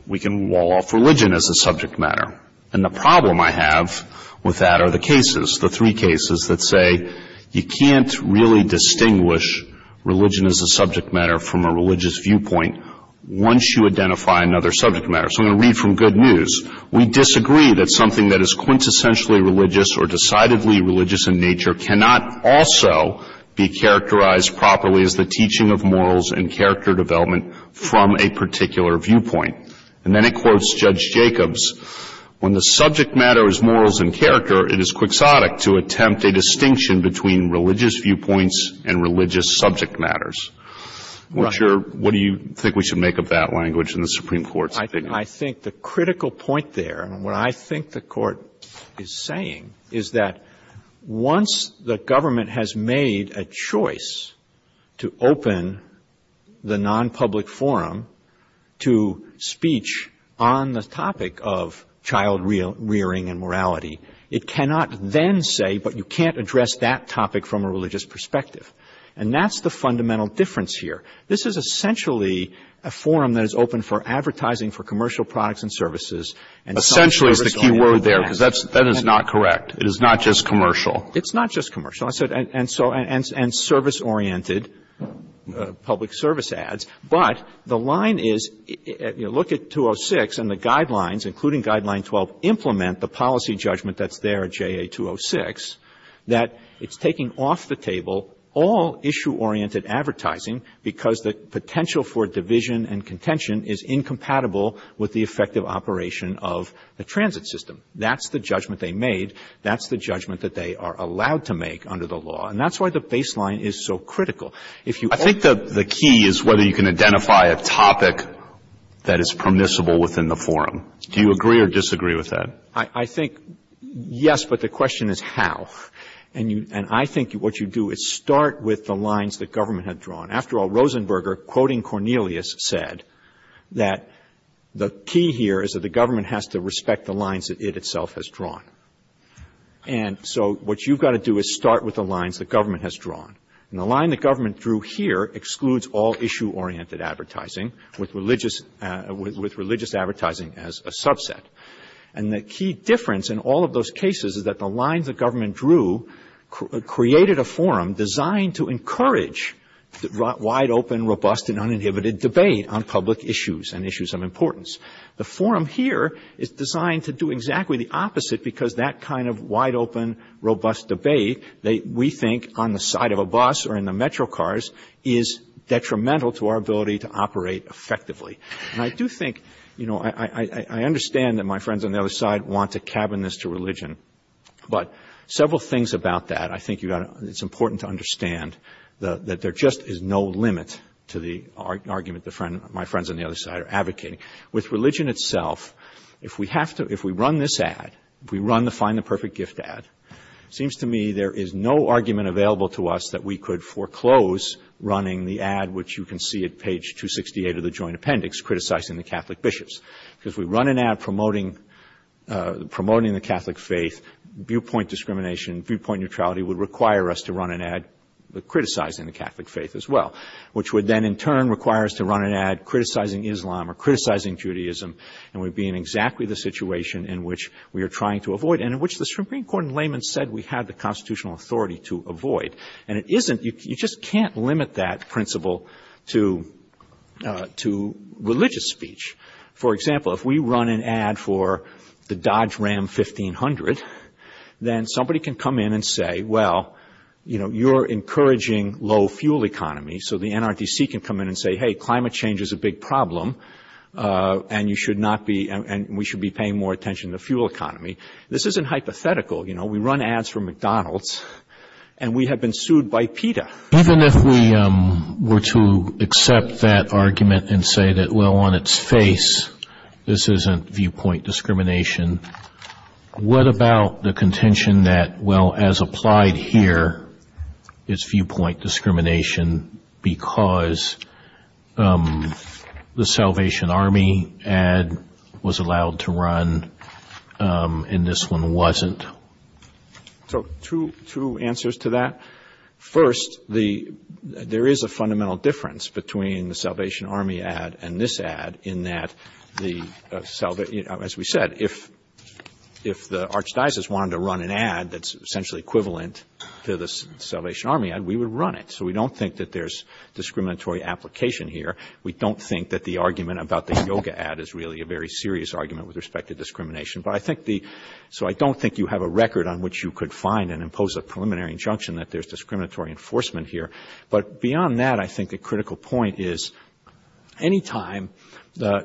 we can wall off religion as a subject matter. And the problem I have with that are the cases, the three cases that say you can't really distinguish religion as a subject matter from a religious viewpoint once you identify another subject matter. So I'm going to read from Good News. We disagree that something that is quintessentially religious or decidedly religious in nature cannot also be characterized properly as the teaching of morals and character development from a particular viewpoint. And then it quotes Judge Jacobs, when the subject matter is morals and character, it is quixotic to attempt a distinction between religious viewpoints and religious subject matters. What do you think we should make of that language in the Supreme Court? I think the critical point there, and what I think the court is saying, is that once the government has made a choice to open the non-public forum to speech on the topic of child rearing and morality, it cannot then say, but you can't address that topic from a religious perspective. And that's the fundamental difference here. This is essentially a forum that is open for advertising for commercial products and services. Essentially is the key word there, because that is not correct. It is not just commercial. It's not just commercial, and service-oriented public service ads. But the line is, look at 206 and the guidelines, including Guideline 12, implement the policy judgment that's there at JA 206, that it's taking off the table all issue-oriented advertising because the potential for division and contention is incompatible with the effective operation of the transit system. That's the judgment they made. That's the judgment that they are allowed to make under the law. And that's why the baseline is so critical. I think the key is whether you can identify a topic that is permissible within the forum. Do you agree or disagree with that? I think, yes, but the question is how. And I think what you do is start with the lines the government had drawn. After all, Rosenberger, quoting Cornelius, said that the key here is that the government has to respect the lines that it itself has drawn. And so what you've got to do is start with the lines the government has drawn. And the line the government drew here excludes all issue-oriented advertising with religious advertising as a subset. And the key difference in all of those cases is that the lines the government drew created a forum designed to encourage wide-open, robust, and uninhibited debate on public issues and issues of importance. The forum here is designed to do exactly the opposite because that kind of wide-open, robust debate, we think on the side of a bus or in the metro cars, is detrimental to our ability to operate effectively. And I do think, you know, I understand that my friends on the other side want to cabin this to religion. But several things about that I think it's important to understand that there just is no limit to the argument my friends on the other side are advocating. With religion itself, if we run this ad, if we run the Find the Perfect Gift ad, it seems to me there is no argument available to us that we could foreclose running the ad, which you can see at page 268 of the Joint Appendix, criticizing the Catholic Bishops. Because if we run an ad promoting the Catholic faith, viewpoint discrimination, viewpoint neutrality, would require us to run an ad criticizing the Catholic faith as well, which would then in turn require us to run an ad criticizing Islam or criticizing Judaism, and we'd be in exactly the situation in which we are trying to avoid, and in which the Supreme Court in Layman said we had the constitutional authority to avoid. And it isn't, you just can't limit that principle to religious speech. For example, if we run an ad for the Dodge Ram 1500, then somebody can come in and say, well, you know, you're encouraging low fuel economy, so the NRDC can come in and say, hey, climate change is a big problem, and you should not be, and we should be paying more attention to fuel economy. This isn't hypothetical, you know, we run ads for McDonald's, and we have been sued by PETA. Even if we were to accept that argument and say that, well, on its face, this isn't viewpoint discrimination, what about the contention that, well, as applied here, it's viewpoint discrimination, because the Salvation Army ad was allowed to run and this one wasn't? So two answers to that. First, there is a fundamental difference between the Salvation Army ad and this ad, in that, as we said, if the Archdiocese wanted to run an ad that's essentially equivalent to the Salvation Army ad, we would run it. So we don't think that there's discriminatory application here. We don't think that the argument about the yoga ad is really a very serious argument with respect to discrimination. So I don't think you have a record on which you could find and impose a preliminary injunction that there's discriminatory enforcement here. But beyond that, I think the critical point is, anytime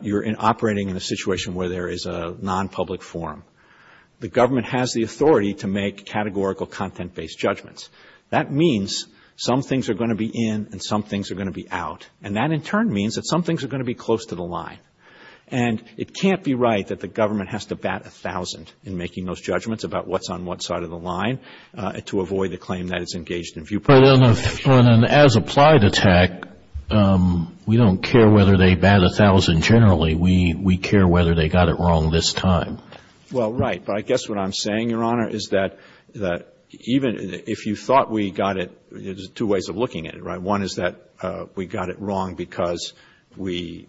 you're operating in a situation where there is a non-public forum, the government has the authority to make categorical content-based judgments. That means some things are going to be in and some things are going to be out, and that in turn means that some things are going to be close to the line. And it can't be right that the government has to bat a thousand in making those judgments about what's on what side of the line to avoid the claim that it's engaged in viewpoint. And as applied to tech, we don't care whether they bat a thousand generally. We care whether they got it wrong this time. Well, right. But I guess what I'm saying, Your Honor, is that even if you thought we got it, there's two ways of looking at it, right? One is that we got it wrong because we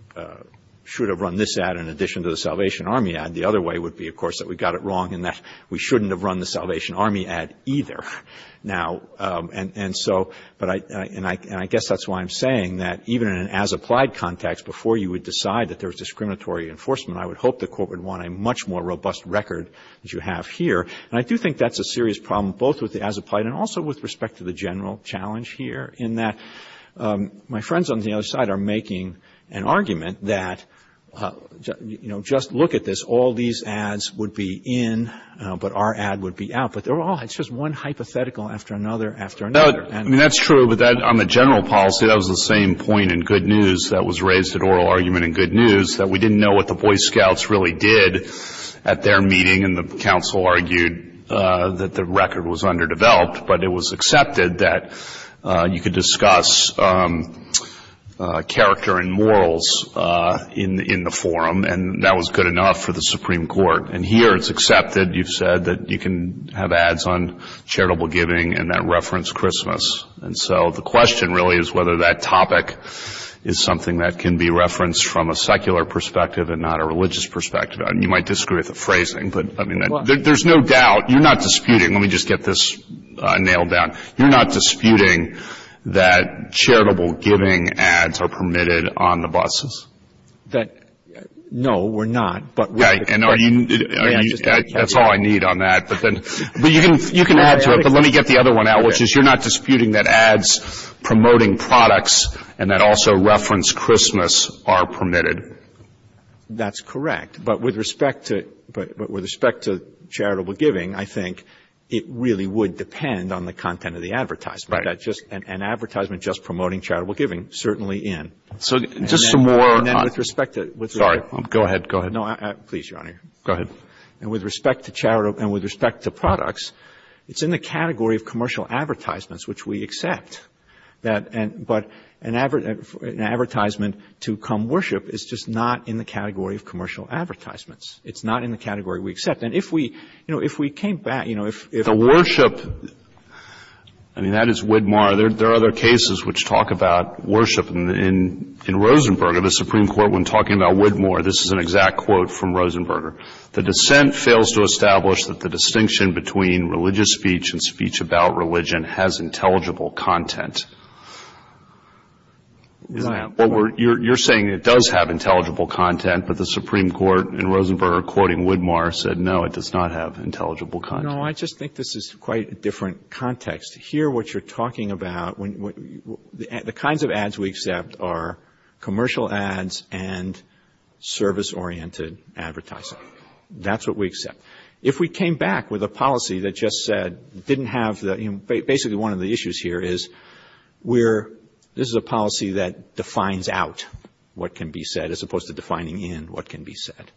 should have run this ad in addition to the Salvation Army ad. The other way would be, of course, that we got it wrong and that we shouldn't have run the Salvation Army ad either. And I guess that's why I'm saying that even in an as-applied context, before you would decide that there was discriminatory enforcement, I would hope the court would want a much more robust record as you have here. And I do think that's a serious problem, both with the as-applied and also with respect to the general challenge here, in that my friends on the other side are making an argument that, you know, just look at this. All these ads would be in, but our ad would be out. But they're all just one hypothetical after another after another. I mean, that's true. But on the general policy, that was the same point in good news that was raised at oral argument in good news, that we didn't know what the Boy Scouts really did at their meeting, and the counsel argued that the record was underdeveloped. But it was accepted that you could discuss character and morals in the forum, and that was good enough for the Supreme Court. And here it's accepted, you've said, that you can have ads on charitable giving and that reference Christmas. And so the question really is whether that topic is something that can be referenced from a secular perspective and not a religious perspective. You might disagree with the phrasing, but there's no doubt. You're not disputing. Let me just get this nailed down. You're not disputing that charitable giving ads are permitted on the buses? No, we're not. That's all I need on that. But you can add to it, but let me get the other one out, which is you're not disputing that ads promoting products and that also reference Christmas are permitted? That's correct. But with respect to charitable giving, I think it really would depend on the content of the advertisement. Right. An advertisement just promoting charitable giving, certainly in. Sorry, go ahead. Please, Your Honor. Go ahead. And with respect to products, it's in the category of commercial advertisements, which we accept. But an advertisement to come worship is just not in the category of commercial advertisements. It's not in the category we accept. And if we came back. The worship, I mean, that is Widmore. There are other cases which talk about worship. In Rosenberger, the Supreme Court, when talking about Widmore, this is an exact quote from Rosenberger. The dissent fails to establish that the distinction between religious speech and speech about religion has intelligible content. You're saying it does have intelligible content, but the Supreme Court in Rosenberger quoting Widmore said, no, it does not have intelligible content. No, I just think this is quite a different context. Here, what you're talking about, the kinds of ads we accept are commercial ads and service-oriented advertising. That's what we accept. If we came back with a policy that just said, didn't have the. Basically, one of the issues here is we're. This is a policy that defines out what can be said as opposed to defining in what can be said.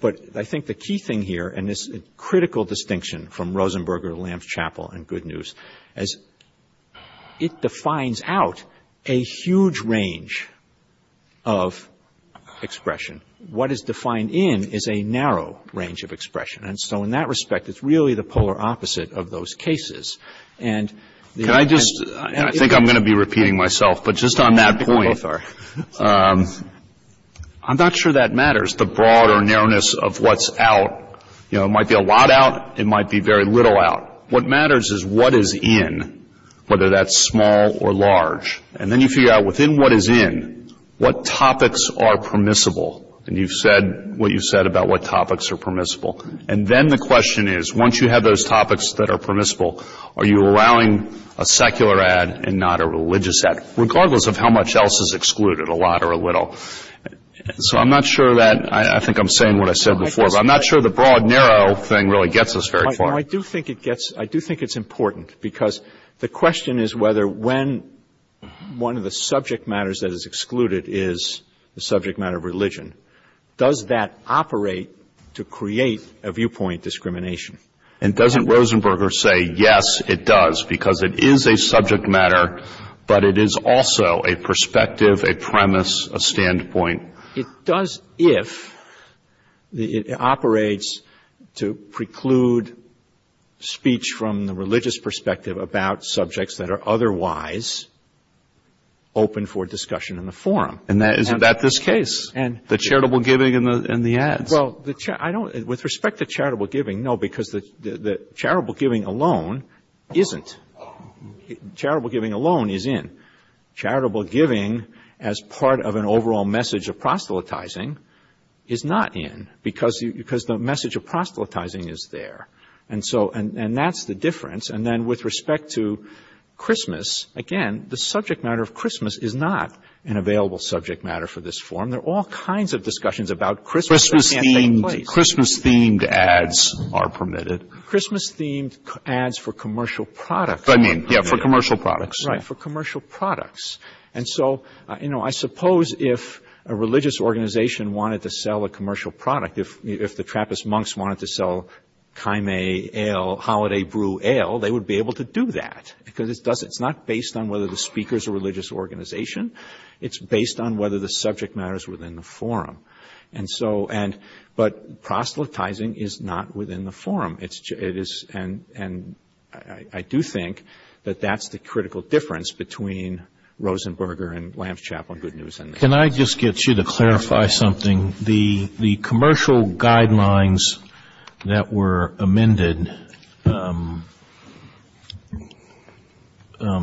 But I think the key thing here, and this is a critical distinction from Rosenberger, Lamps Chapel and Good News, is it defines out a huge range of expression. What is defined in is a narrow range of expression. And so in that respect, it's really the polar opposite of those cases. And I just think I'm going to be repeating myself. But just on that point, I'm not sure that matters, the broad or narrowness of what's out. It might be a lot out. It might be very little out. What matters is what is in, whether that's small or large. And then you figure out within what is in, what topics are permissible. And you've said what you've said about what topics are permissible. And then the question is, once you have those topics that are permissible, are you allowing a secular ad and not a religious ad, regardless of how much else is excluded, a lot or a little? So I'm not sure that, I think I'm saying what I said before. But I'm not sure the broad, narrow thing really gets us very far. I do think it gets, I do think it's important. Because the question is whether when one of the subject matters that is excluded is the subject matter of religion. Does that operate to create a viewpoint discrimination? And doesn't Rosenberger say, yes, it does, because it is a subject matter, but it is also a perspective, a premise, a standpoint? It does if it operates to preclude speech from the religious perspective about subjects that are otherwise open for discussion in the forum. And is that this case? The charitable giving and the ad? Well, I don't, with respect to charitable giving, no, because the charitable giving alone isn't. Charitable giving alone is in. Charitable giving as part of an overall message of proselytizing is not in, because the message of proselytizing is there. And so, and that's the difference. And then with respect to Christmas, again, the subject matter of Christmas is not an available subject matter for this forum. And there are all kinds of discussions about Christmas that can't take place. Christmas-themed ads are permitted. Christmas-themed ads for commercial products are permitted. I mean, yeah, for commercial products. Right, for commercial products. And so, you know, I suppose if a religious organization wanted to sell a commercial product, if the Trappist monks wanted to sell chimae ale, holiday brew ale, they would be able to do that. Because it's not based on whether the speaker is a religious organization. It's based on whether the subject matter is within the forum. And so, and, but proselytizing is not within the forum. It is, and I do think that that's the critical difference between Rosenberger and Lamb's Chapel Good News. Can I just get you to clarify something? The commercial guidelines that were amended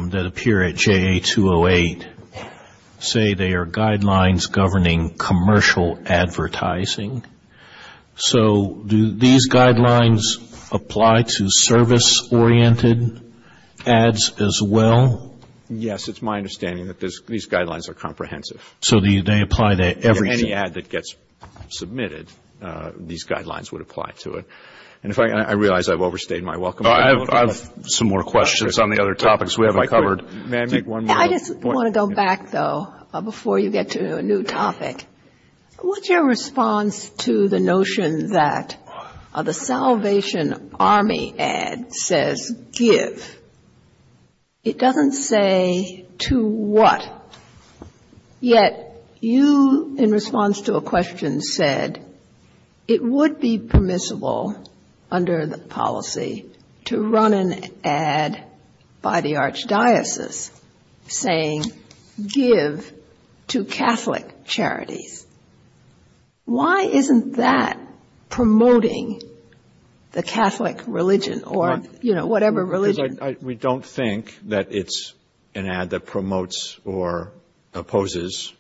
that appear at JA 208 say they are guidelines governing commercial advertising. So, do these guidelines apply to service-oriented ads as well? Yes, it's my understanding that these guidelines are comprehensive. So, they apply to every ad that gets submitted, these guidelines would apply to it. And I realize I've overstayed my welcome. I have some more questions on the other topics we haven't covered. May I make one more? I just want to go back, though, before you get to a new topic. What's your response to the notion that the Salvation Army ad says, give? It doesn't say to what. Yet, you, in response to a question, said it would be permissible under the policy to run an ad by the archdiocese saying, give to Catholic charities. Why isn't that promoting the Catholic religion or, you know, whatever religion? Because we don't think that it's an ad that promotes or opposes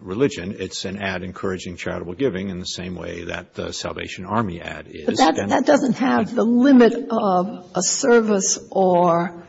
religion. It's an ad encouraging charitable giving in the same way that the Salvation Army ad is. That doesn't have the limit of a service or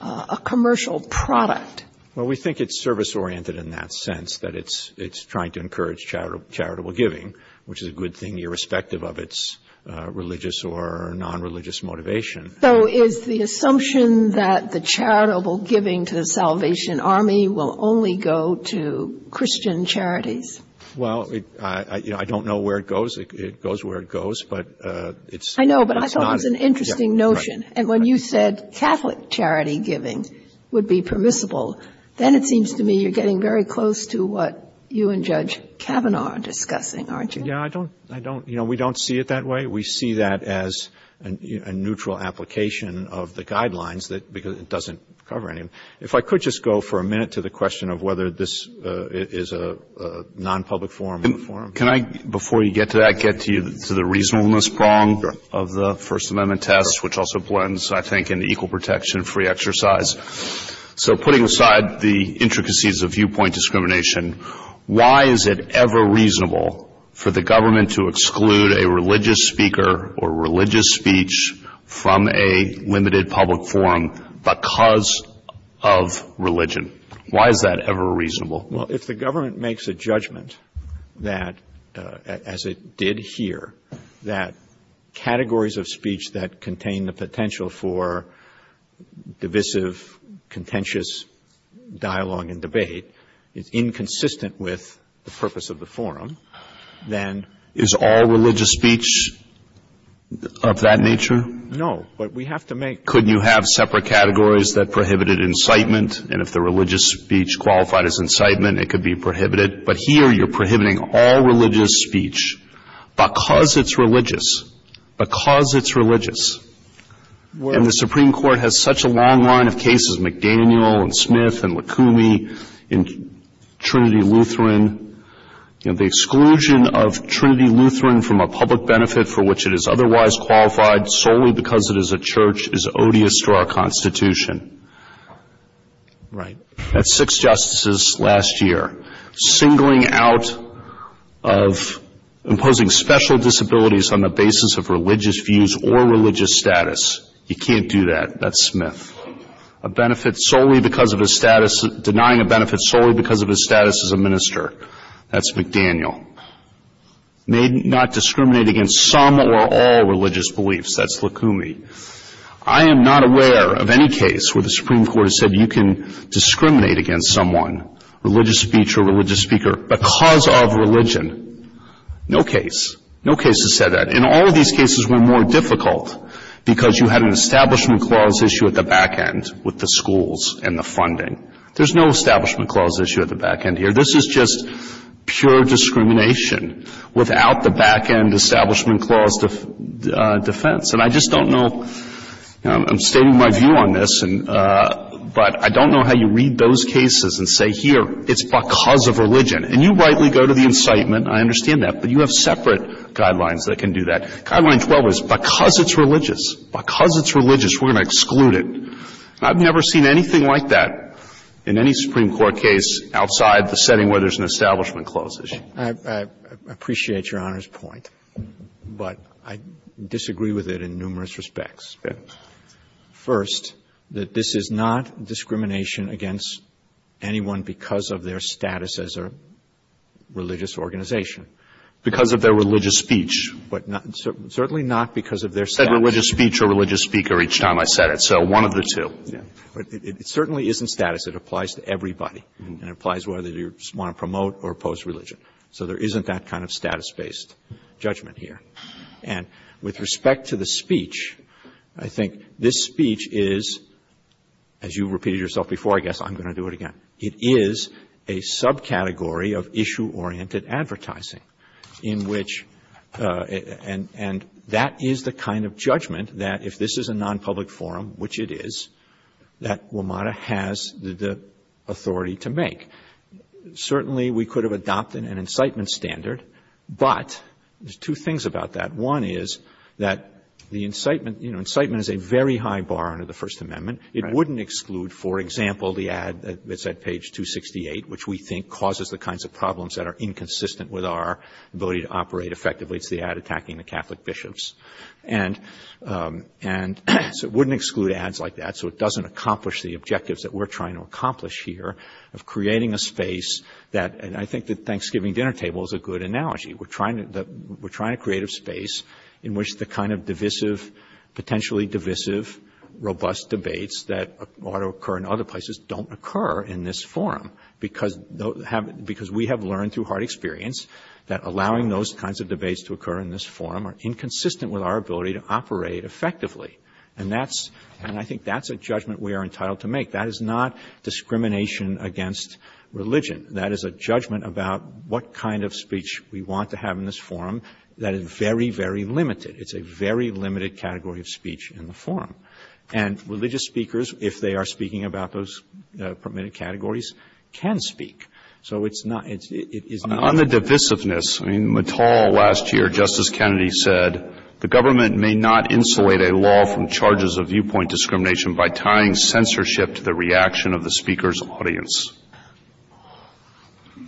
a commercial product. Well, we think it's service-oriented in that sense, that it's trying to encourage charitable giving, which is a good thing irrespective of its religious or non-religious motivation. So, is the assumption that the charitable giving to the Salvation Army will only go to Christian charities? Well, I don't know where it goes. It goes where it goes. I know, but I thought it was an interesting notion. And when you said Catholic charity giving would be permissible, then it seems to me you're getting very close to what you and Judge Kavanaugh are discussing, aren't you? Yeah, we don't see it that way. We see that as a neutral application of the guidelines because it doesn't cover anything. If I could just go for a minute to the question of whether this is a non-public forum. Can I, before you get to that, get to the reasonableness prong of the First Amendment test, which also blends, I think, into equal protection and free exercise? So, putting aside the intricacies of viewpoint discrimination, why is it ever reasonable for the government to exclude a religious speaker or religious speech from a limited public forum because of religion? Why is that ever reasonable? Well, if the government makes a judgment that, as it did here, that categories of speech that contain the potential for divisive, contentious dialogue and debate is inconsistent with the purpose of the forum, then... Is all religious speech of that nature? No, but we have to make... Could you have separate categories that prohibited incitement? And if the religious speech qualified as incitement, it could be prohibited. But here you're prohibiting all religious speech because it's religious. Because it's religious. And the Supreme Court has such a long line of cases, McDaniel and Smith and Lacoumie and Trinity Lutheran. The exclusion of Trinity Lutheran from a public benefit for which it is otherwise qualified, solely because it is a church, is odious to our Constitution. Right. That's six justices last year. Singling out of imposing special disabilities on the basis of religious views or religious status. You can't do that. That's Smith. Denying a benefit solely because of his status as a minister. That's McDaniel. Not discriminating against some or all religious beliefs. That's Lacoumie. I am not aware of any case where the Supreme Court has said you can discriminate against someone, religious speech or religious speaker, because of religion. No case. No case has said that. And all of these cases were more difficult because you had an Establishment Clause issue at the back end with the schools and the funding. There's no Establishment Clause issue at the back end here. This is just pure discrimination without the back end Establishment Clause defense. And I just don't know. I'm stating my view on this. But I don't know how you read those cases and say, here, it's because of religion. And you rightly go to the incitement. I understand that. But you have separate guidelines that can do that. Guideline 12 is because it's religious. Because it's religious, we're going to exclude it. I've never seen anything like that in any Supreme Court case outside the setting where there's an Establishment Clause issue. I appreciate Your Honor's point. But I disagree with it in numerous respects. First, that this is not discrimination against anyone because of their status as a religious organization. Because of their religious speech. Certainly not because of their status. I said religious speech or religious speaker each time I said it. So one of the two. It certainly isn't status. It applies to everybody. It applies whether you want to promote or oppose religion. So there isn't that kind of status-based judgment here. And with respect to the speech, I think this speech is, as you repeated yourself before, I guess I'm going to do it again. It is a subcategory of issue-oriented advertising. And that is the kind of judgment that if this is a non-public forum, which it is, that WMATA has the authority to make. Certainly we could have adopted an incitement standard. But there's two things about that. One is that the incitement is a very high bar under the First Amendment. It wouldn't exclude, for example, the ad that's at page 268, which we think causes the kinds of problems that are inconsistent with our ability to operate effectively. It's the ad attacking the Catholic bishops. And so it wouldn't exclude ads like that. So it doesn't accomplish the objectives that we're trying to accomplish here of creating a space that, and I think the Thanksgiving dinner table is a good analogy. We're trying to create a space in which the kind of divisive, potentially divisive, robust debates that ought to occur in other places don't occur in this forum. Because we have learned through hard experience that allowing those kinds of debates to occur in this forum are inconsistent with our ability to operate effectively. And that's, and I think that's a judgment we are entitled to make. That is not discrimination against religion. That is a judgment about what kind of speech we want to have in this forum that is very, very limited. It's a very limited category of speech in the forum. And religious speakers, if they are speaking about those permitted categories, can speak. So it's not, it's not. On the divisiveness, I mean, McCall last year, Justice Kennedy said, the government may not insulate a law from charges of viewpoint discrimination by tying censorship to the reaction of the speaker's audience.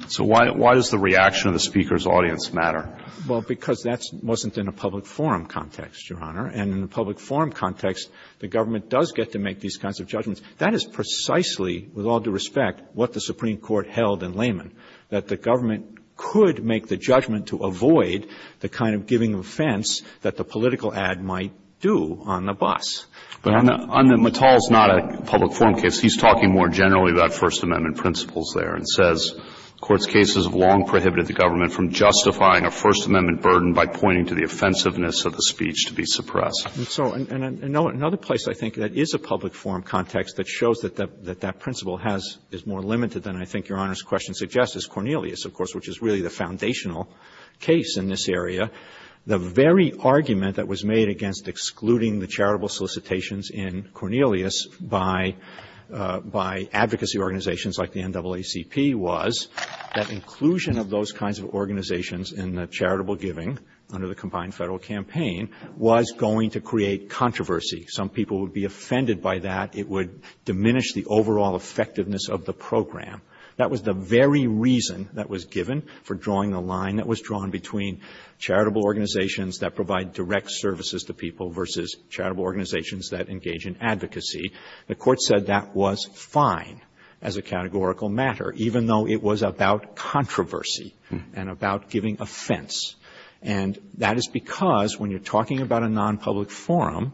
So why does the reaction of the speaker's audience matter? Well, because that wasn't in a public forum context, Your Honor. And in a public forum context, the government does get to make these kinds of judgments. That is precisely, with all due respect, what the Supreme Court held in layman, that the government could make the judgment to avoid the kind of giving offense that the political ad might do on the bus. But on the, McCall's not a public forum case. He's talking more generally about First Amendment principles there and says, court's cases have long prohibited the government from justifying a First Amendment burden by pointing to the offensiveness of the speech to be suppressed. And so, and another place I think that is a public forum context that shows that that principle is more limited than I think Your Honor's question suggests is Cornelius, of course, which is really the foundational case in this area. The very argument that was made against excluding the charitable solicitations in Cornelius by advocacy organizations like the NAACP was that inclusion of those kinds of organizations in the charitable giving under the combined federal campaign was going to create controversy. Some people would be offended by that. It would diminish the overall effectiveness of the program. That was the very reason that was given for drawing the line that was drawn between charitable organizations that provide direct services to people versus charitable organizations that engage in advocacy. The court said that was fine as a categorical matter, even though it was about controversy and about giving offense. And that is because when you're talking about a non-public forum,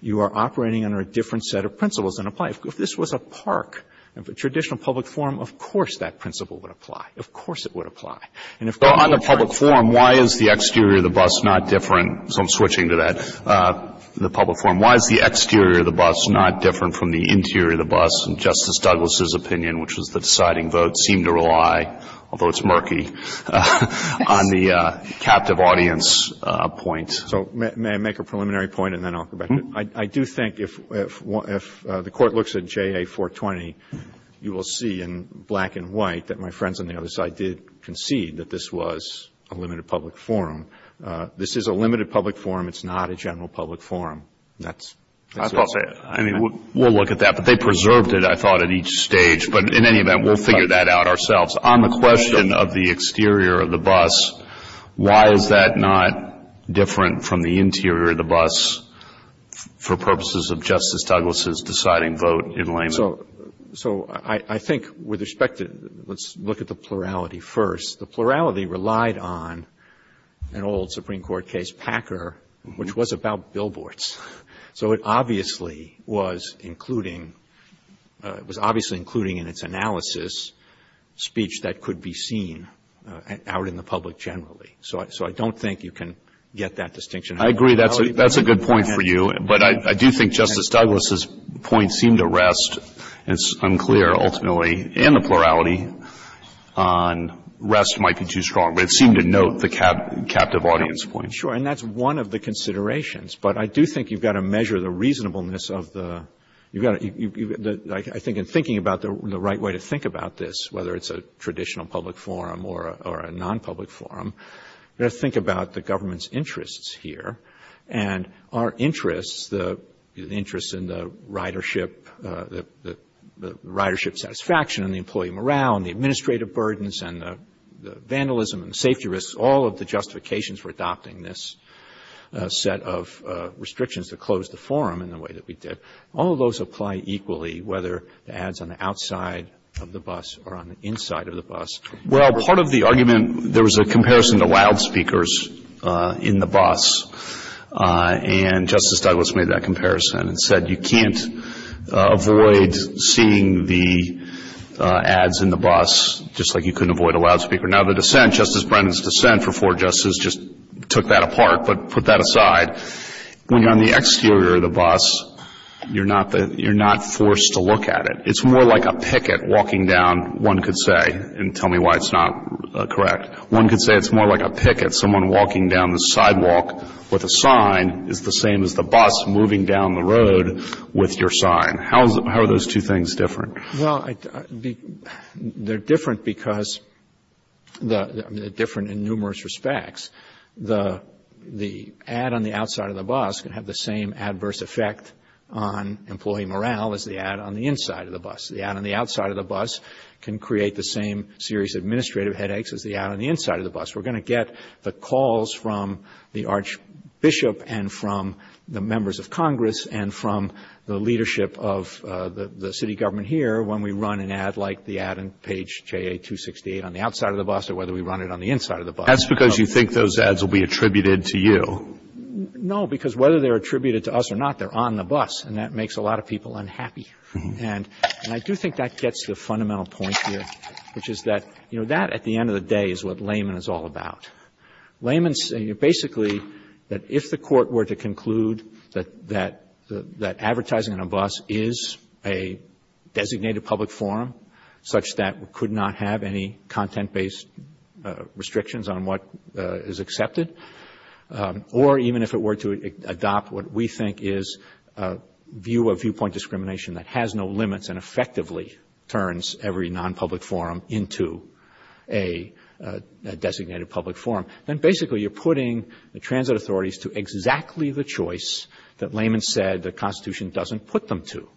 you are operating under a different set of principles than applies. If this was a park, a traditional public forum, of course that principle would apply. Of course it would apply. And if it's a public forum, why is the exterior of the bus not different? So I'm switching to that. The public forum, why is the exterior of the bus not different from the interior of the bus? And Justice Douglas' opinion, which was the deciding vote, seemed to rely, although it's murky, on the captive audience point. So may I make a preliminary point and then I'll come back to it? I do think if the court looks at JA 420, you will see in black and white that my friends on the other side did concede that this was a limited public forum. This is a limited public forum. It's not a general public forum. I mean, we'll look at that. But they preserved it, I thought, at each stage. But in any event, we'll figure that out ourselves. On the question of the exterior of the bus, why is that not different from the interior of the bus for purposes of Justice Douglas' deciding vote in laymen? So I think with respect to the plurality first, the plurality relied on an old Supreme Court case, Packer, which was about billboards. So it obviously was including in its analysis speech that could be seen out in the public generally. So I don't think you can get that distinction. I agree. That's a good point for you. But I do think Justice Douglas' point seemed to rest, it's unclear ultimately, in the plurality on rest might be too strong. But it seemed to note the captive audience point. Sure. And that's one of the considerations. But I do think you've got to measure the reasonableness of the – I think in thinking about the right way to think about this, whether it's a traditional public forum or a non-public forum, you have to think about the government's interests here. And our interests, the interest in the ridership satisfaction and the employee morale and the administrative burdens and the vandalism and safety risks, all of the justifications for adopting this set of restrictions to close the forum in the way that we did, all of those apply equally whether the ads on the outside of the bus or on the inside of the bus. Well, part of the argument, there was a comparison to loudspeakers in the bus, and Justice Douglas made that comparison and said you can't avoid seeing the ads in the bus, just like you couldn't avoid a loudspeaker. Now, the dissent, Justice Brennan's dissent before Justice just took that apart but put that aside, when you're on the exterior of the bus, you're not forced to look at it. It's more like a picket walking down, one could say, and tell me why it's not correct. One could say it's more like a picket, someone walking down the sidewalk with a sign, it's the same as the bus moving down the road with your sign. How are those two things different? Well, they're different because they're different in numerous respects. The ad on the outside of the bus can have the same adverse effect on employee morale as the ad on the inside of the bus. The ad on the outside of the bus can create the same serious administrative headaches as the ad on the inside of the bus. We're going to get the calls from the archbishop and from the members of Congress and from the leadership of the city government here when we run an ad like the ad on page JA-268 on the outside of the bus or whether we run it on the inside of the bus. That's because you think those ads will be attributed to you. No, because whether they're attributed to us or not, they're on the bus and that makes a lot of people unhappy. And I do think that gets to a fundamental point here, which is that, you know, that at the end of the day is what layman is all about. Basically, if the court were to conclude that advertising on a bus is a designated public forum such that it could not have any content-based restrictions on what is accepted or even if it were to adopt what we think is a viewpoint discrimination that has no limits and effectively turns every non-public forum into a designated public forum, then basically you're putting the transit authorities to exactly the choice that layman said the Constitution doesn't put them to.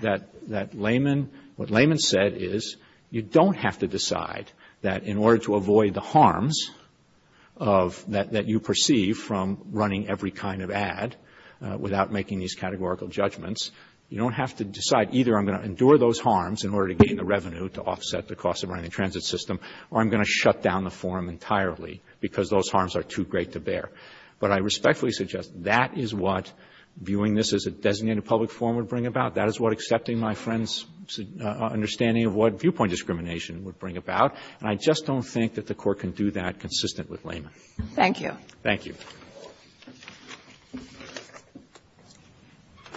What layman said is you don't have to decide that in order to avoid the harms that you perceive from running every kind of ad without making these categorical judgments, you don't have to decide either I'm going to endure those harms in order to gain the revenue to offset the cost of running a transit system or I'm going to shut down the forum entirely because those harms are too great to bear. But I respectfully suggest that is what viewing this as a designated public forum would bring about. That is what accepting my friend's understanding of what viewpoint discrimination would bring about. And I just don't think that the court can do that consistent with layman. Thank you. Thank you.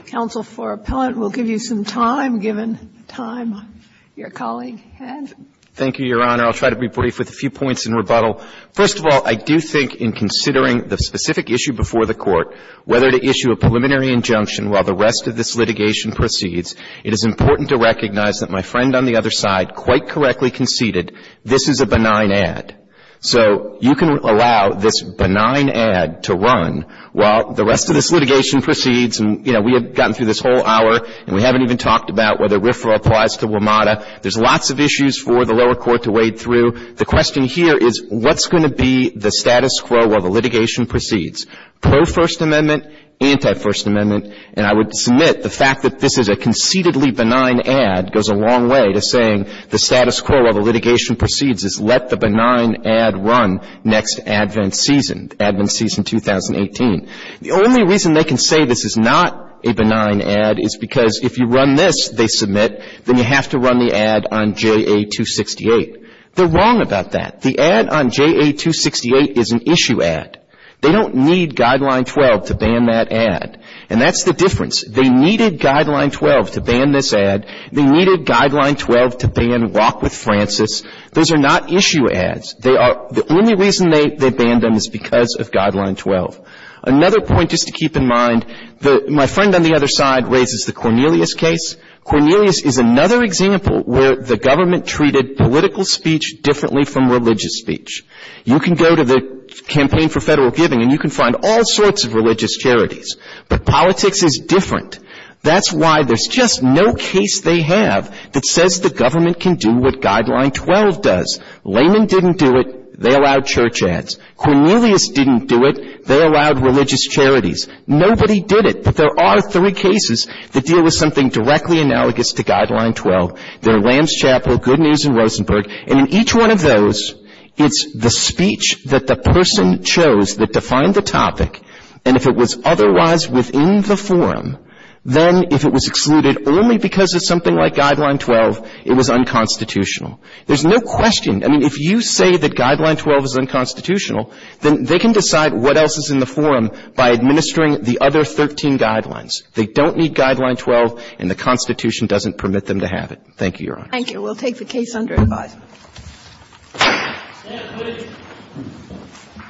Counsel for Appellant will give you some time given time. Your colleague, Ed. Thank you, Your Honor. I'll try to be brief with a few points in rebuttal. First of all, I do think in considering the specific issue before the court, whether to issue a preliminary injunction while the rest of this litigation proceeds, it is important to recognize that my friend on the other side quite correctly conceded this is a benign ad. So you can allow this benign ad to run while the rest of this litigation proceeds, and we have gotten through this whole hour and we haven't even talked about whether RFRA applies to WMATA. There's lots of issues for the lower court to wade through. The question here is what's going to be the status quo while the litigation proceeds? Pro-First Amendment, anti-First Amendment, and I would submit the fact that this is a conceitedly benign ad goes a long way to saying the status quo while the litigation proceeds is let the benign ad run next Advent season, Advent season 2018. The only reason they can say this is not a benign ad is because if you run this, they submit, then you have to run the ad on JA-268. They're wrong about that. The ad on JA-268 is an issue ad. They don't need Guideline 12 to ban that ad, and that's the difference. They needed Guideline 12 to ban this ad. They needed Guideline 12 to ban Walk with Francis. Those are not issue ads. The only reason they banned them is because of Guideline 12. Another point just to keep in mind, my friend on the other side raises the Cornelius case. Cornelius is another example where the government treated political speech differently from religious speech. You can go to the Campaign for Federal Giving and you can find all sorts of religious charities, but politics is different. That's why there's just no case they have that says the government can do what Guideline 12 does. Lehman didn't do it. They allowed church ads. Cornelius didn't do it. They allowed religious charities. Nobody did it, but there are three cases that deal with something directly analogous to Guideline 12. They're Lamb's Chapel, Good News in Rosenberg, and in each one of those, it's the speech that the person chose that defined the topic, and if it was otherwise within the forum, then if it was excluded only because of something like Guideline 12, it was unconstitutional. There's no question. I mean, if you say that Guideline 12 is unconstitutional, then they can decide what else is in the forum by administering the other 13 guidelines. They don't need Guideline 12, and the Constitution doesn't permit them to have it. Thank you, Your Honor. Thank you. We'll take the case under review. Thank you.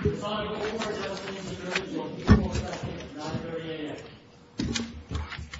Good-bye. Thank you. Thank you. Thank you. Thank you. Thank you. Thank you.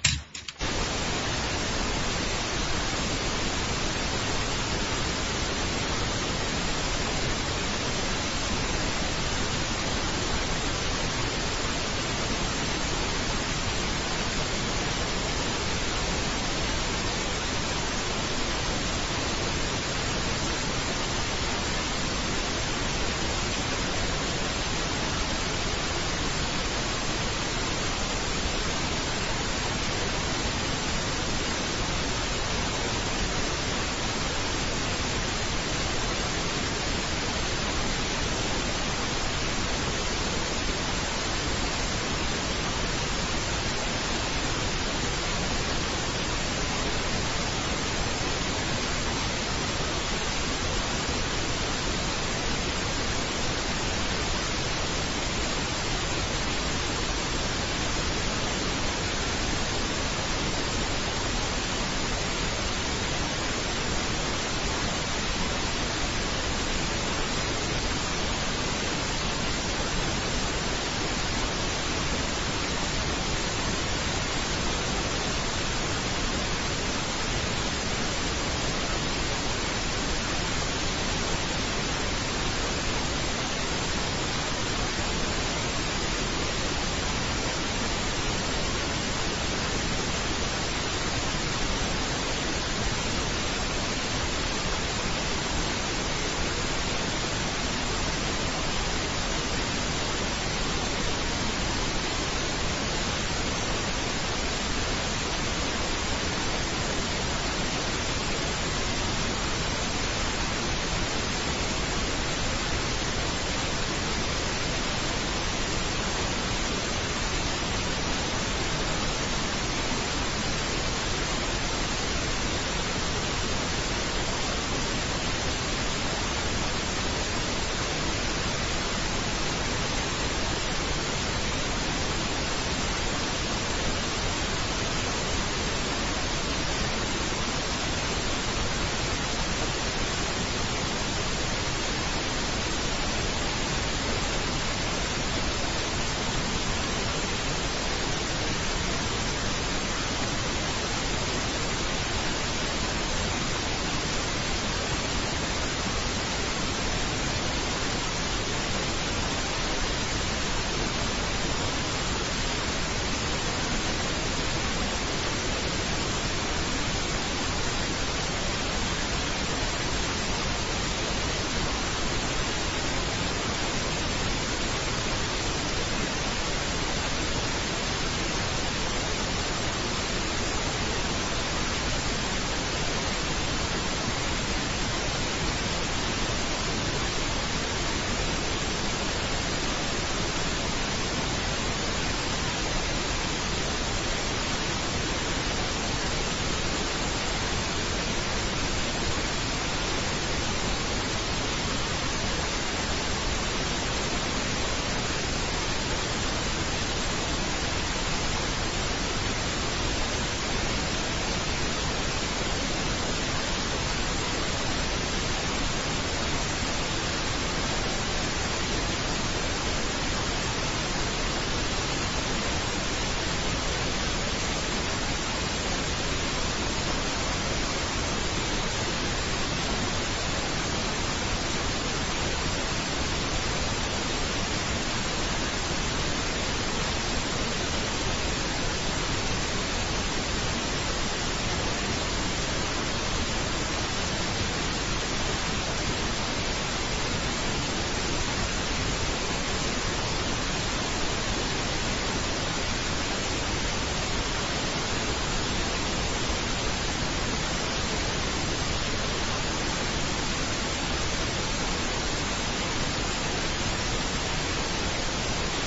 Thank you.